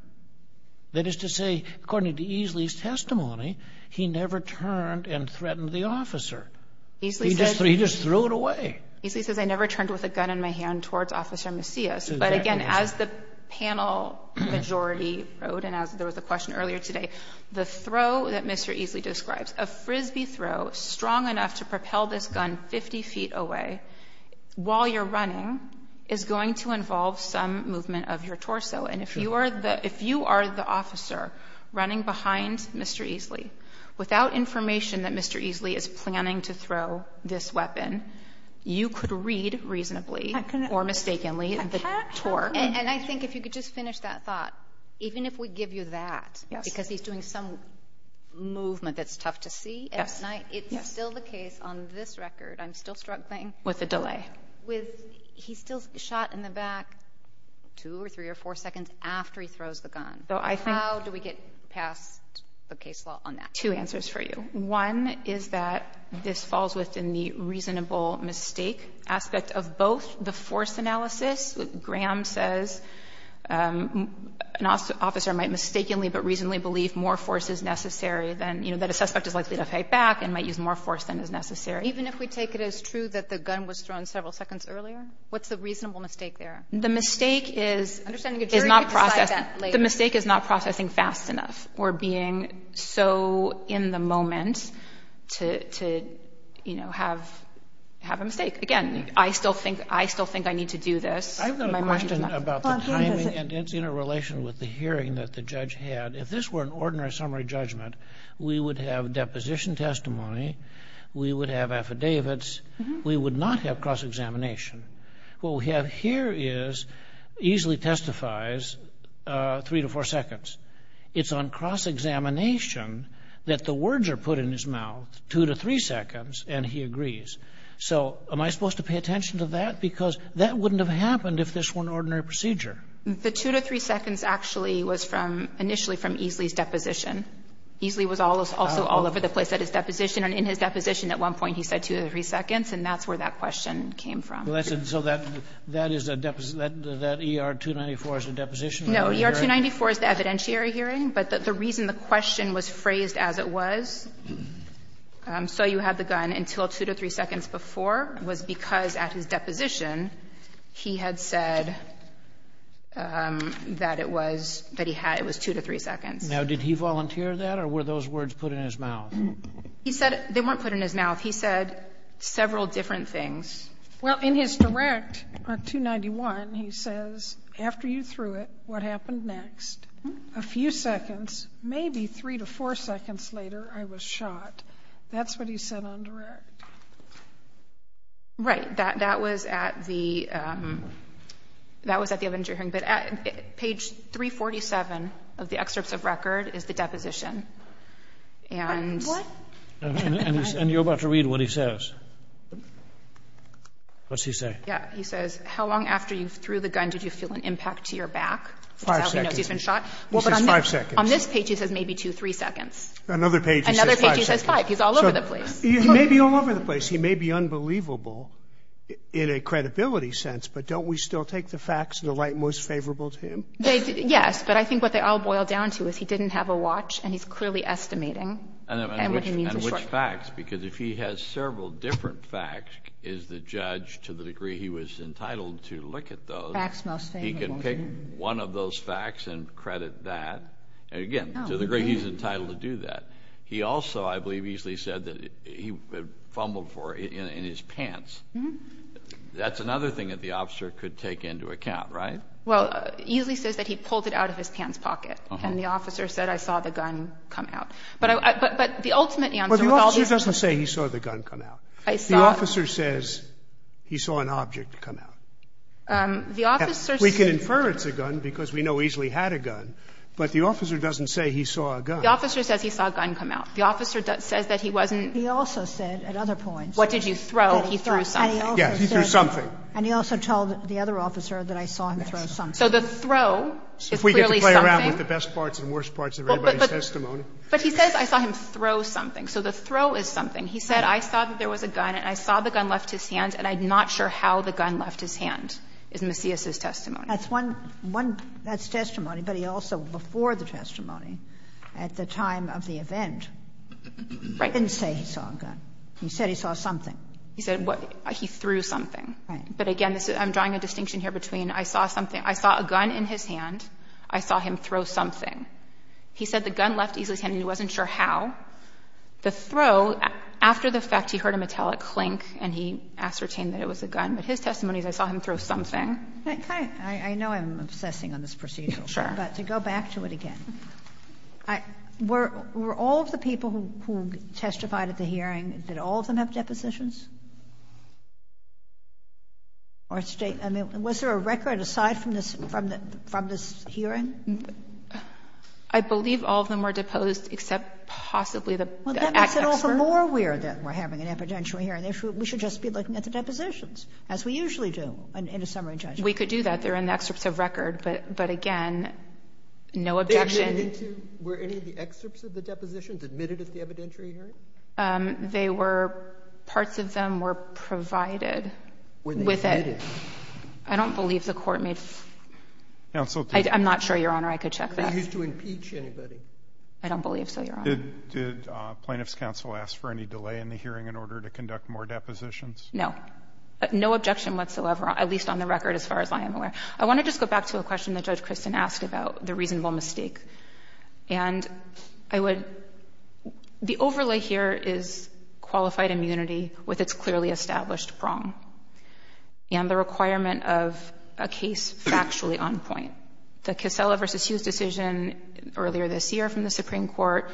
That is to say, according to Easley's testimony, he never turned and threatened the officer. He just threw it away. Easley says, I never turned with a gun in my hand towards Officer Macias. But again, as the panel majority wrote, and as there was a question earlier today, the throw that Mr. Easley describes, a Frisbee throw strong enough to propel this gun 50 feet away while you're running is going to involve some movement of your torso. And if you are the officer running behind Mr. Easley without information that Mr. Easley is planning to throw this weapon, you could read reasonably or mistakenly the torque. And I think if you could just finish that thought, even if we give you that, because he's doing some movement that's tough to see at night, it's still the case on this record. I'm still struggling. With the delay. He still shot in the back two or three or four seconds after he throws the gun. How do we get past the case law on that? Two answers for you. One is that this falls within the reasonable mistake aspect of both the force analysis. Graham says an officer might mistakenly but reasonably believe more force is necessary than, you know, that a suspect is likely to fight back and might use more force than is necessary. Even if we take it as true that the gun was thrown several seconds earlier? What's the reasonable mistake there? The mistake is not process. The mistake is not processing fast enough or being so in the moment to, you know, have a mistake. Again, I still think I need to do this. I've got a question about the timing and its interrelation with the hearing that the judge had. If this were an ordinary summary judgment, we would have deposition testimony. We would have affidavits. We would not have cross-examination. What we have here is Easley testifies three to four seconds. It's on cross-examination that the words are put in his mouth, two to three seconds, and he agrees. So am I supposed to pay attention to that? Because that wouldn't have happened if this were an ordinary procedure. The two to three seconds actually was from initially from Easley's deposition. Easley was also all over the place at his deposition. And in his deposition at one point he said two to three seconds, and that's where that question came from. So that ER-294 is the deposition? No, ER-294 is the evidentiary hearing. But the reason the question was phrased as it was, so you had the gun until two to three seconds before, was because at his deposition he had said that it was two to three seconds. Now, did he volunteer that, or were those words put in his mouth? They weren't put in his mouth. He said several different things. Well, in his direct on 291, he says, after you threw it, what happened next? A few seconds, maybe three to four seconds later, I was shot. That's what he said on direct. Right. That was at the evidentiary hearing. But at page 347 of the excerpts of record is the deposition. What? And you're about to read what he says. What's he say? Yeah, he says, how long after you threw the gun did you feel an impact to your back? Five seconds. He's been shot. He says five seconds. On this page he says maybe two, three seconds. Another page he says five seconds. Another page he says five. He's all over the place. He may be all over the place. He may be unbelievable in a credibility sense, but don't we still take the facts in the light most favorable to him? Yes, but I think what they all boil down to is he didn't have a watch, and he's clearly estimating. And which facts, because if he has several different facts, is the judge, to the degree he was entitled to look at those. Facts most favorable. He can pick one of those facts and credit that. Again, to the degree he's entitled to do that. He also, I believe, easily said that he fumbled for it in his pants. That's another thing that the officer could take into account, right? Well, it easily says that he pulled it out of his pants pocket, and the officer said, I saw the gun come out. But the ultimate answer with all these. Well, the officer doesn't say he saw the gun come out. I saw. The officer says he saw an object come out. The officer. We can infer it's a gun because we know easily had a gun, but the officer doesn't say he saw a gun. The officer says he saw a gun come out. The officer says that he wasn't. He also said at other points. What did you throw? He threw something. Yes, he threw something. And he also told the other officer that I saw him throw something. So the throw is clearly something. If we get to play around with the best parts and worst parts of everybody's testimony. But he says I saw him throw something. So the throw is something. He said I saw that there was a gun, and I saw the gun left his hand, and I'm not sure how the gun left his hand, is Macias's testimony. That's one one. That's testimony. But he also, before the testimony, at the time of the event. Right. He didn't say he saw a gun. He said he saw something. He said he threw something. But again, I'm drawing a distinction here between I saw something, I saw a gun in his hand, I saw him throw something. He said the gun left his hand, and he wasn't sure how. The throw, after the fact, he heard a metallic clink, and he ascertained that it was a gun. But his testimony is I saw him throw something. I know I'm obsessing on this procedure. Sure. But to go back to it again, were all of the people who testified at the hearing, did all of them have depositions? Or state? I mean, was there a record aside from this hearing? I believe all of them were deposed, except possibly the excerpt. Well, that makes it also more weird that we're having an evidentiary hearing. We should just be looking at the depositions, as we usually do in a summary judgment. We could do that. They're in the excerpts of record. But again, no objection. Were any of the excerpts of the depositions admitted at the evidentiary hearing? They were. Parts of them were provided. Were they admitted? I don't believe the Court made. Counsel, please. I'm not sure, Your Honor, I could check that. Were they used to impeach anybody? I don't believe so, Your Honor. Did plaintiff's counsel ask for any delay in the hearing in order to conduct more depositions? No. No objection whatsoever, at least on the record, as far as I am aware. I want to just go back to a question that Judge Christin asked about the reasonable mistake. And I would, the overlay here is qualified immunity with its clearly established wrong. And the requirement of a case factually on point. The Kissela v. Hughes decision earlier this year from the Supreme Court,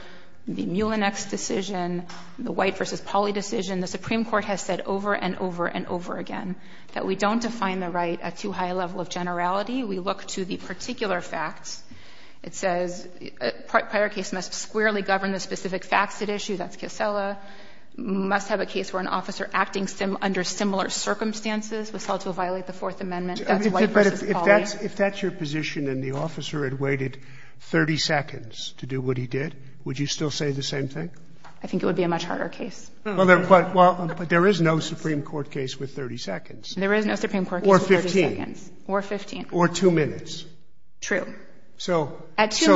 the Mullinex decision, the White v. Pauley decision, the Supreme Court has said over and over and over again that we don't define the right at too high a level of generality. We look to the particular facts. It says prior case must squarely govern the specific facts at issue. That's Kissela. Must have a case where an officer acting under similar circumstances was held to violate the Fourth Amendment. That's White v. Pauley. But if that's your position and the officer had waited 30 seconds to do what he did, would you still say the same thing? I think it would be a much harder case. Well, there is no Supreme Court case with 30 seconds. There is no Supreme Court case with 30 seconds. Or 15. Or 15. Or two minutes. True. So this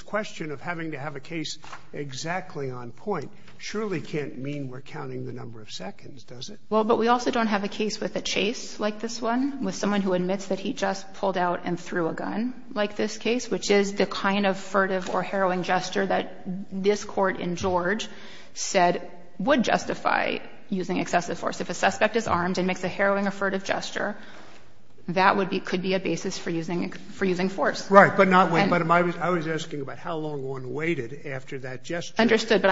question of having to have a case exactly on point surely can't mean we're counting the number of seconds, does it? Well, but we also don't have a case with a chase like this one, with someone who admits that he just pulled out and threw a gun like this case, which is the kind of furtive or harrowing gesture that this Court in George said would justify using excessive force. If a suspect is armed and makes a harrowing or furtive gesture, that could be a basis for using force. Right. But not wait. But I was asking about how long one waited after that gesture to use the force. Understood. But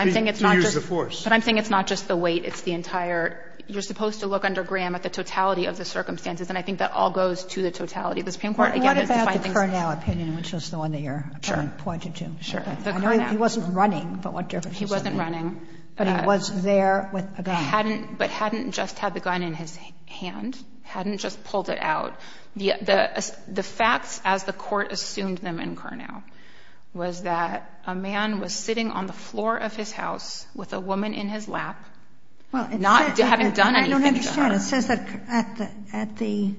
I'm saying it's not just the wait. It's the entire – you're supposed to look under Graham at the totality of the circumstances, and I think that all goes to the totality of the Supreme Court. What about the Curnow opinion, which was the one that Your Honor pointed to? Sure. The Curnow. I know he wasn't running, but what difference does it make? He wasn't running. But he was there with a gun. But hadn't just had the gun in his hand. Hadn't just pulled it out. The facts as the Court assumed them in Curnow was that a man was sitting on the floor of his house with a woman in his lap, not having done anything to her. I don't understand. It says that at the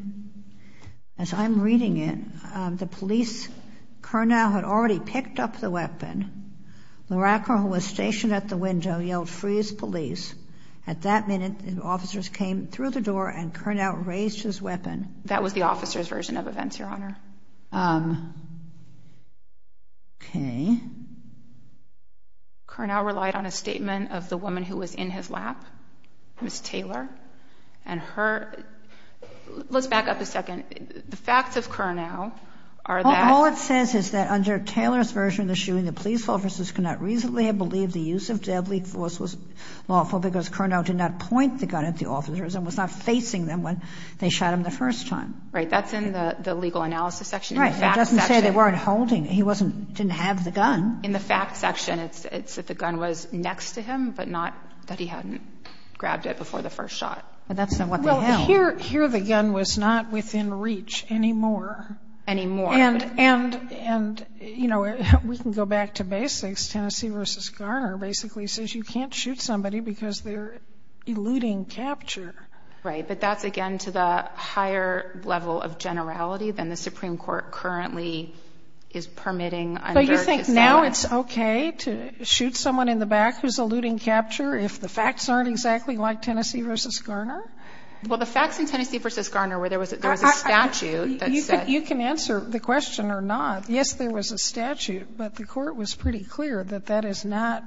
– as I'm reading it, the police – Curnow had already picked up the weapon. Laracker, who was stationed at the window, yelled, freeze police. At that minute, officers came through the door and Curnow raised his weapon. That was the officer's version of events, Your Honor. Okay. Curnow relied on a statement of the woman who was in his lap, Ms. Taylor, and her – let's back up a second. The facts of Curnow are that – I believe the use of deadly force was lawful because Curnow did not point the gun at the officers and was not facing them when they shot him the first time. Right. That's in the legal analysis section. Right. It doesn't say they weren't holding. He wasn't – didn't have the gun. In the facts section, it's that the gun was next to him, but not that he hadn't grabbed it before the first shot. But that's not what they held. Well, here the gun was not within reach anymore. Anymore. And, you know, we can go back to basics. Tennessee v. Garner basically says you can't shoot somebody because they're eluding capture. But that's, again, to the higher level of generality than the Supreme Court currently is permitting. So you think now it's okay to shoot someone in the back who's eluding capture if the facts aren't exactly like Tennessee v. Garner? Well, the facts in Tennessee v. Garner where there was a statute that said – You can answer the question or not. Yes, there was a statute, but the court was pretty clear that that is not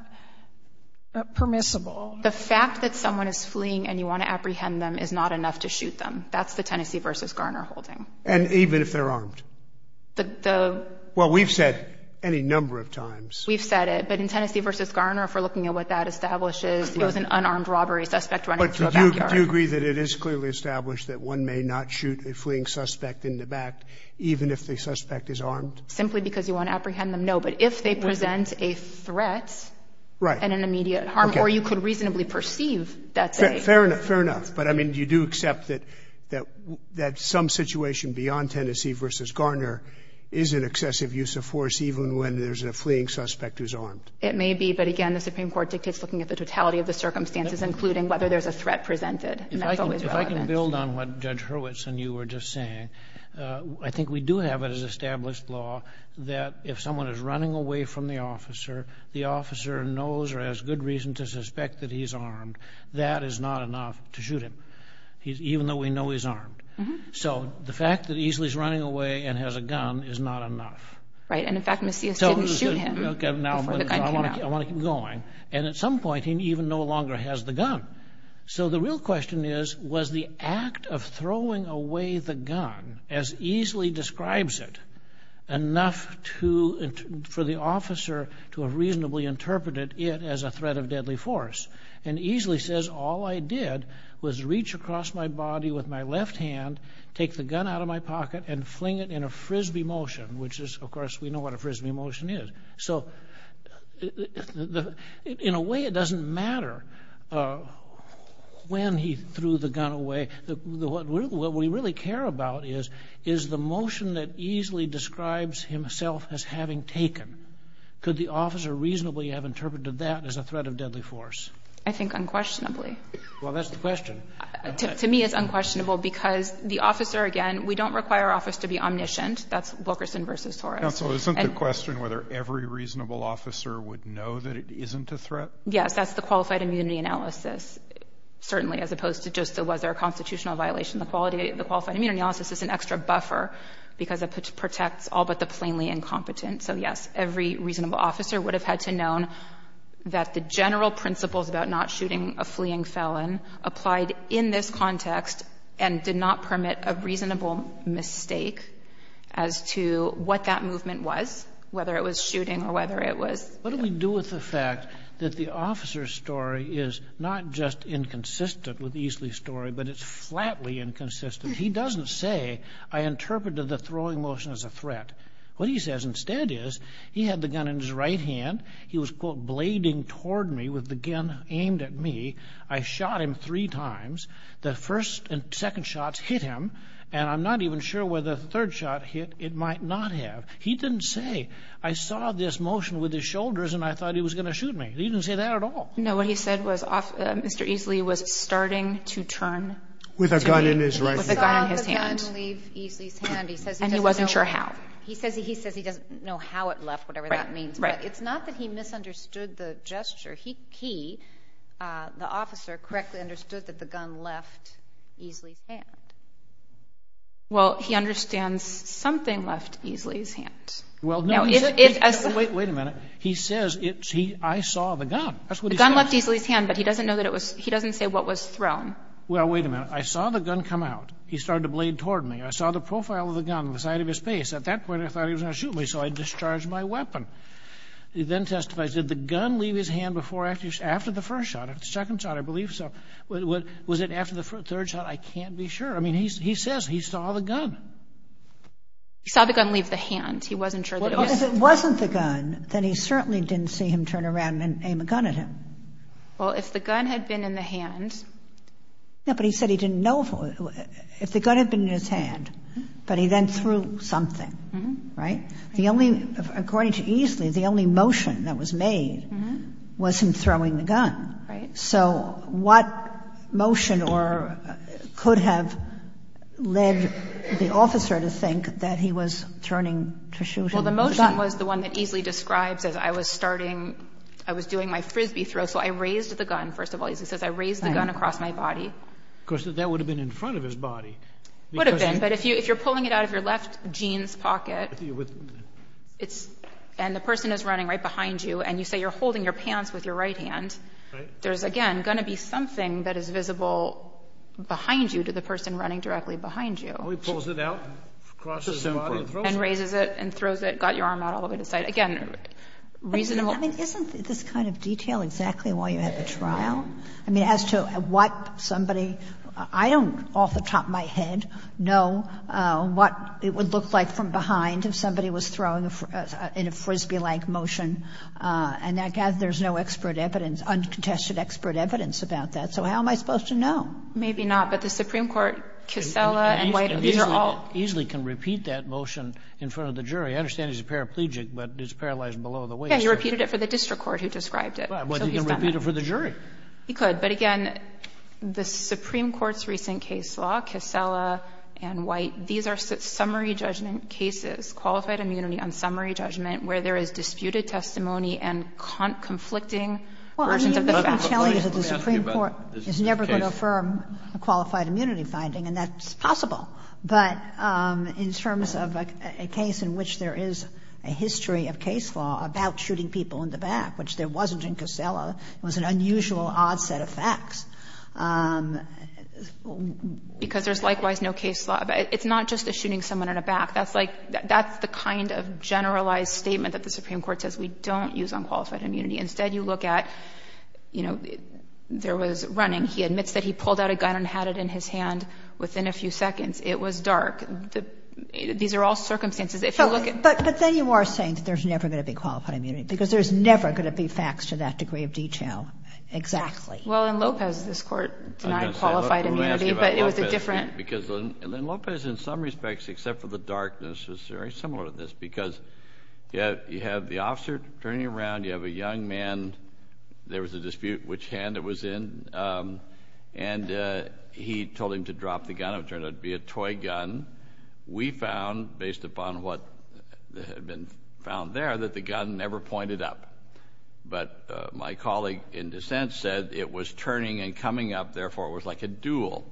permissible. The fact that someone is fleeing and you want to apprehend them is not enough to shoot them. That's the Tennessee v. Garner holding. And even if they're armed? The – Well, we've said any number of times. We've said it. But in Tennessee v. Garner, if we're looking at what that establishes, it was an unarmed robbery suspect running through a backyard. Do you agree that it is clearly established that one may not shoot a fleeing suspect in the back even if the suspect is armed? Simply because you want to apprehend them, no. But if they present a threat and an immediate harm, or you could reasonably perceive that they – Fair enough, fair enough. But, I mean, do you do accept that some situation beyond Tennessee v. Garner is an excessive use of force even when there's a fleeing suspect who's armed? It may be. But, again, the Supreme Court dictates looking at the totality of the circumstances, including whether there's a threat presented. And that's always relevant. If I can build on what Judge Hurwitz and you were just saying, I think we do have as established law that if someone is running away from the officer, the officer knows or has good reason to suspect that he's armed. That is not enough to shoot him, even though we know he's armed. So the fact that he's running away and has a gun is not enough. And, in fact, Macias didn't shoot him before the gun came out. I want to keep going. And, at some point, he even no longer has the gun. So the real question is, was the act of throwing away the gun as easily describes it enough for the officer to have reasonably interpreted it as a threat of deadly force? And easily says, all I did was reach across my body with my left hand, take the gun out of my pocket, and fling it in a Frisbee motion, which is, of course, we know what a Frisbee motion is. So in a way, it doesn't matter when he threw the gun away. What we really care about is the motion that easily describes himself as having taken. Could the officer reasonably have interpreted that as a threat of deadly force? I think unquestionably. Well, that's the question. To me, it's unquestionable because the officer, again, we don't require our office to be omniscient. That's Wilkerson versus Torres. Counsel, isn't the question whether every reasonable officer would know that it isn't a threat? Yes, that's the qualified immunity analysis, certainly, as opposed to just was there a constitutional violation. The qualified immunity analysis is an extra buffer because it protects all but the plainly incompetent. So, yes, every reasonable officer would have had to have known that the general principles about not shooting a fleeing felon applied in this context and did not permit a reasonable mistake as to what that movement was, whether it was shooting or whether it was. What do we do with the fact that the officer's story is not just inconsistent with Easley's story, but it's flatly inconsistent? He doesn't say, I interpreted the throwing motion as a threat. What he says instead is he had the gun in his right hand. He was, quote, blading toward me with the gun aimed at me. I shot him three times. The first and second shots hit him, and I'm not even sure where the third shot hit. It might not have. He didn't say, I saw this motion with his shoulders, and I thought he was going to shoot me. He didn't say that at all. No, what he said was Mr. Easley was starting to turn to me. With a gun in his right hand. With a gun in his hand. He saw the gun leave Easley's hand. He says he doesn't know. And he wasn't sure how. He says he doesn't know how it left, whatever that means. Right, right. But it's not that he misunderstood the gesture. He, the officer, correctly understood that the gun left Easley's hand. Well, he understands something left Easley's hand. Well, no. Wait a minute. He says, I saw the gun. That's what he says. The gun left Easley's hand, but he doesn't say what was thrown. Well, wait a minute. I saw the gun come out. He started to blade toward me. I saw the profile of the gun on the side of his face. At that point, I thought he was going to shoot me, so I discharged my weapon. He then testified, did the gun leave his hand after the first shot? After the second shot, I believe so. Was it after the third shot? I can't be sure. I mean, he says he saw the gun. He saw the gun leave the hand. He wasn't sure that it was. Well, if it wasn't the gun, then he certainly didn't see him turn around and aim a gun at him. Well, if the gun had been in the hand. Yeah, but he said he didn't know. If the gun had been in his hand, but he then threw something, right? According to Easley, the only motion that was made was him throwing the gun. Right. So what motion could have led the officer to think that he was turning to shoot him with a gun? Well, the motion was the one that Easley describes as I was starting. I was doing my frisbee throw, so I raised the gun, first of all. He says, I raised the gun across my body. Of course, that would have been in front of his body. It would have been, but if you're pulling it out of your left jeans pocket. And the person is running right behind you, and you say you're holding your pants with your right hand. Right. There's, again, going to be something that is visible behind you to the person running directly behind you. Well, he pulls it out across his body and throws it. And raises it and throws it, got your arm out all the way to the side. Again, reasonable. I mean, isn't this kind of detail exactly why you had the trial? I mean, as to what somebody, I don't off the top of my head know what it would look like from behind if somebody was throwing in a frisbee-like motion. And I gather there's no expert evidence, uncontested expert evidence about that. So how am I supposed to know? Maybe not. But the Supreme Court, Kissela and White, these are all. Easley can repeat that motion in front of the jury. I understand he's a paraplegic, but it's paralyzed below the waist. Yeah, he repeated it for the district court who described it. Well, he can repeat it for the jury. He could. But, again, the Supreme Court's recent case law, Kissela and White, these are summary judgment cases, qualified immunity on summary judgment, where there is disputed testimony and conflicting versions of the facts. Well, I mean, you've been telling us that the Supreme Court is never going to affirm a qualified immunity finding, and that's possible. But in terms of a case in which there is a history of case law about shooting people in the back, which there wasn't in Kissela, it was an unusual, odd set of facts. Because there's likewise no case law. It's not just a shooting someone in the back. That's like the kind of generalized statement that the Supreme Court says we don't use on qualified immunity. Instead, you look at, you know, there was running. He admits that he pulled out a gun and had it in his hand within a few seconds. It was dark. These are all circumstances. But then you are saying that there's never going to be qualified immunity because there's never going to be facts to that degree of detail. Exactly. Well, in Lopez, this Court denied qualified immunity, but it was a different. Because in Lopez, in some respects, except for the darkness, it's very similar to this because you have the officer turning around. You have a young man. There was a dispute which hand it was in. And he told him to drop the gun. It turned out to be a toy gun. We found, based upon what had been found there, that the gun never pointed up. But my colleague in dissent said it was turning and coming up. Therefore, it was like a duel.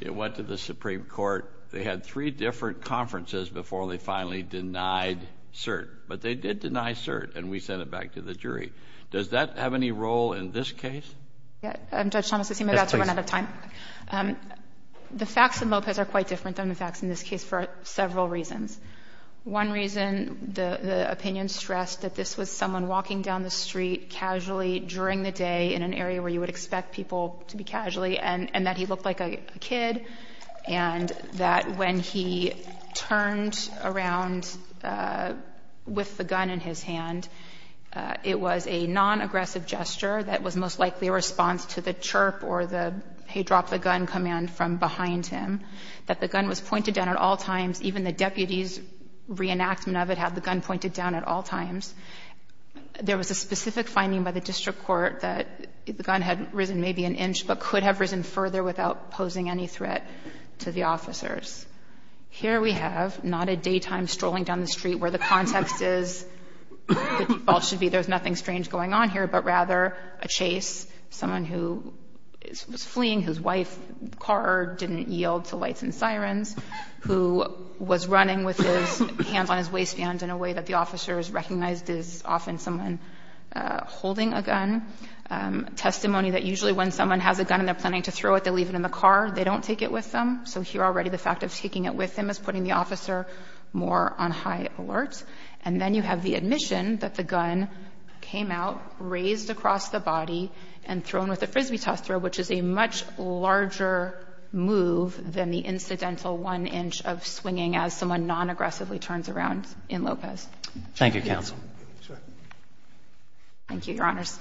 It went to the Supreme Court. They had three different conferences before they finally denied cert. But they did deny cert, and we sent it back to the jury. Does that have any role in this case? Judge Thomas, I seem to have run out of time. Yes, please. The facts in Lopez are quite different than the facts in this case for several reasons. One reason, the opinion stressed that this was someone walking down the street casually during the day in an area where you would expect people to be casually, and that he looked like a kid, and that when he turned around with the gun in his hand, it was a nonaggressive gesture that was most likely a response to the chirp or the, hey, drop the gun command from behind him, that the gun was pointed down at all times. Even the deputy's reenactment of it had the gun pointed down at all times. There was a specific finding by the district court that the gun had risen maybe an inch, but could have risen further without posing any threat to the officers. Here we have not a daytime strolling down the street where the context is, the default should be there's nothing strange going on here, but rather a chase, someone who was fleeing whose wife's car didn't yield to lights and sirens, who was running with his hands on his waistband in a way that the officers recognized is often someone holding a gun. Testimony that usually when someone has a gun and they're planning to throw it, they leave it in the car. They don't take it with them. So here already the fact of taking it with them is putting the officer more on high alert. And then you have the admission that the gun came out, raised across the body, and thrown with a frisbee toss throw, which is a much larger move than the incidental one inch of swinging as someone non-aggressively turns around in Lopez. Thank you, Counsel. Thank you, Your Honors.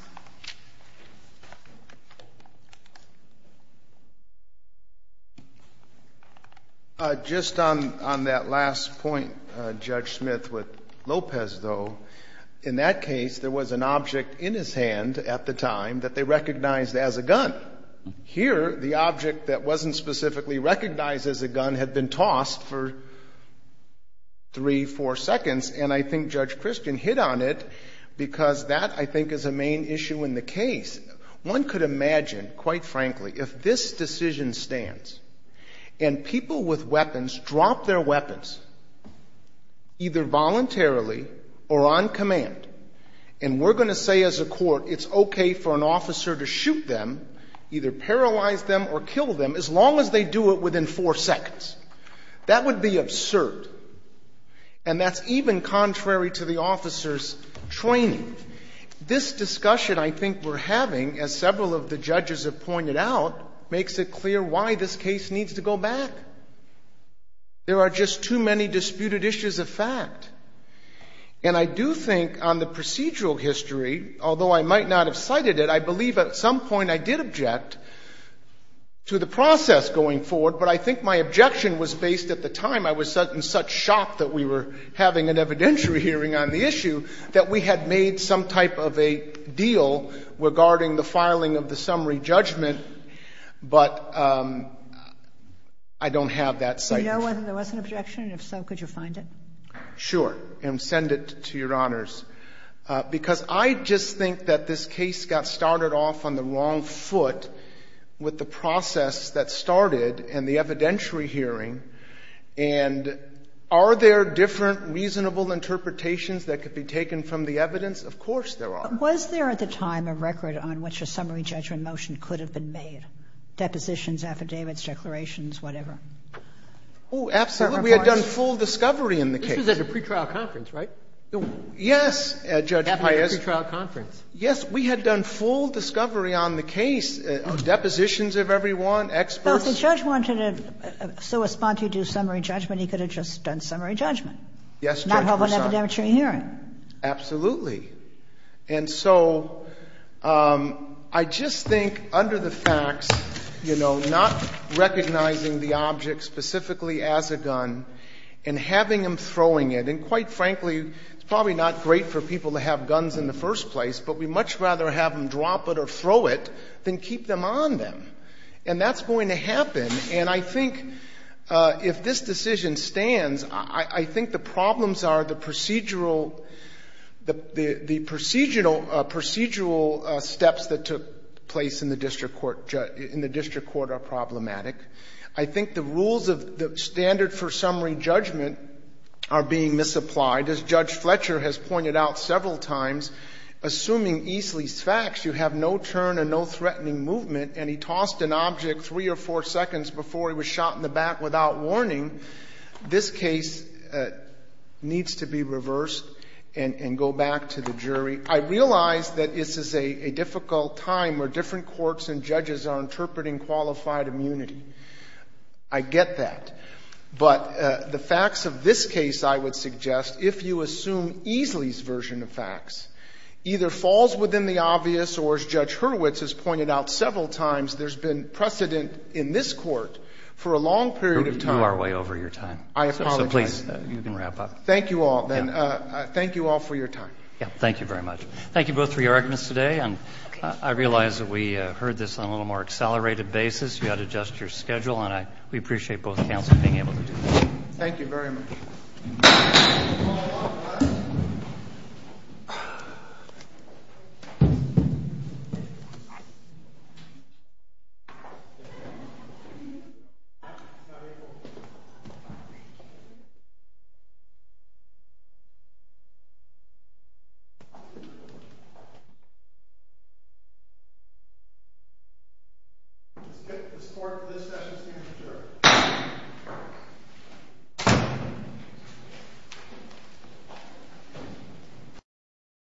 Just on that last point, Judge Smith, with Lopez, though, in that case there was an object in his hand at the time that they recognized as a gun. Here the object that wasn't specifically recognized as a gun had been tossed for three, four seconds, and I think Judge Christian hit on it because that, I think, is a main issue in the case. One could imagine, quite frankly, if this decision stands and people with weapons drop their weapons, either voluntarily or on command, and we're going to say as a court it's okay for an officer to shoot them, either paralyze them or kill them, as long as they do it within four seconds. That would be absurd. And that's even contrary to the officer's training. This discussion I think we're having, as several of the judges have pointed out, makes it clear why this case needs to go back. There are just too many disputed issues of fact. And I do think on the procedural history, although I might not have cited it, I believe at some point I did object to the process going forward, but I think my objection was based at the time I was in such shock that we were having an evidentiary hearing on the issue that we had made some type of a deal regarding the filing of the summary judgment, but I don't have that citation. Do you know whether there was an objection? And if so, could you find it? Sure. And send it to Your Honors. Because I just think that this case got started off on the wrong foot with the process that started and the evidentiary hearing, and are there different reasonable interpretations that could be taken from the evidence? Of course there are. Was there at the time a record on which a summary judgment motion could have been made? Depositions, affidavits, declarations, whatever? Oh, absolutely. We had done full discovery in the case. This was at a pretrial conference, right? Yes, Judge Pius. At a pretrial conference. Yes. We had done full discovery on the case, depositions of everyone, experts. Well, if the judge wanted to so respond to do summary judgment, he could have just done summary judgment. Yes, Judge Pius. Not have an evidentiary hearing. Absolutely. And so I just think under the facts, you know, not recognizing the object specifically as a gun and having them throwing it, and quite frankly, it's probably not great for people to have guns in the first place, but we'd much rather have them drop it or throw it than keep them on them. And that's going to happen. And I think if this decision stands, I think the problems are the procedural steps that took place in the district court are problematic. I think the rules of the standard for summary judgment are being misapplied. As Judge Fletcher has pointed out several times, assuming Eastley's facts, you have no turn and no threatening movement, and he tossed an object three or four seconds before he was shot in the back without warning, this case needs to be reversed and go back to the jury. I realize that this is a difficult time where different courts and judges are interpreting qualified immunity. I get that. But the facts of this case, I would suggest, if you assume Eastley's version of facts, either falls within the obvious or, as Judge Hurwitz has pointed out several times, there's been precedent in this Court for a long period of time. You are way over your time. I apologize. So please, you can wrap up. Thank you all, then. Thank you all for your time. Yeah. Thank you very much. Thank you both for your arguments today, and I realize that we heard this on a little more accelerated basis. You've got to adjust your schedule, and we appreciate both counsel being able to do that. Thank you very much. We'll call it off, guys. The support for this session stands adjourned. Thank you.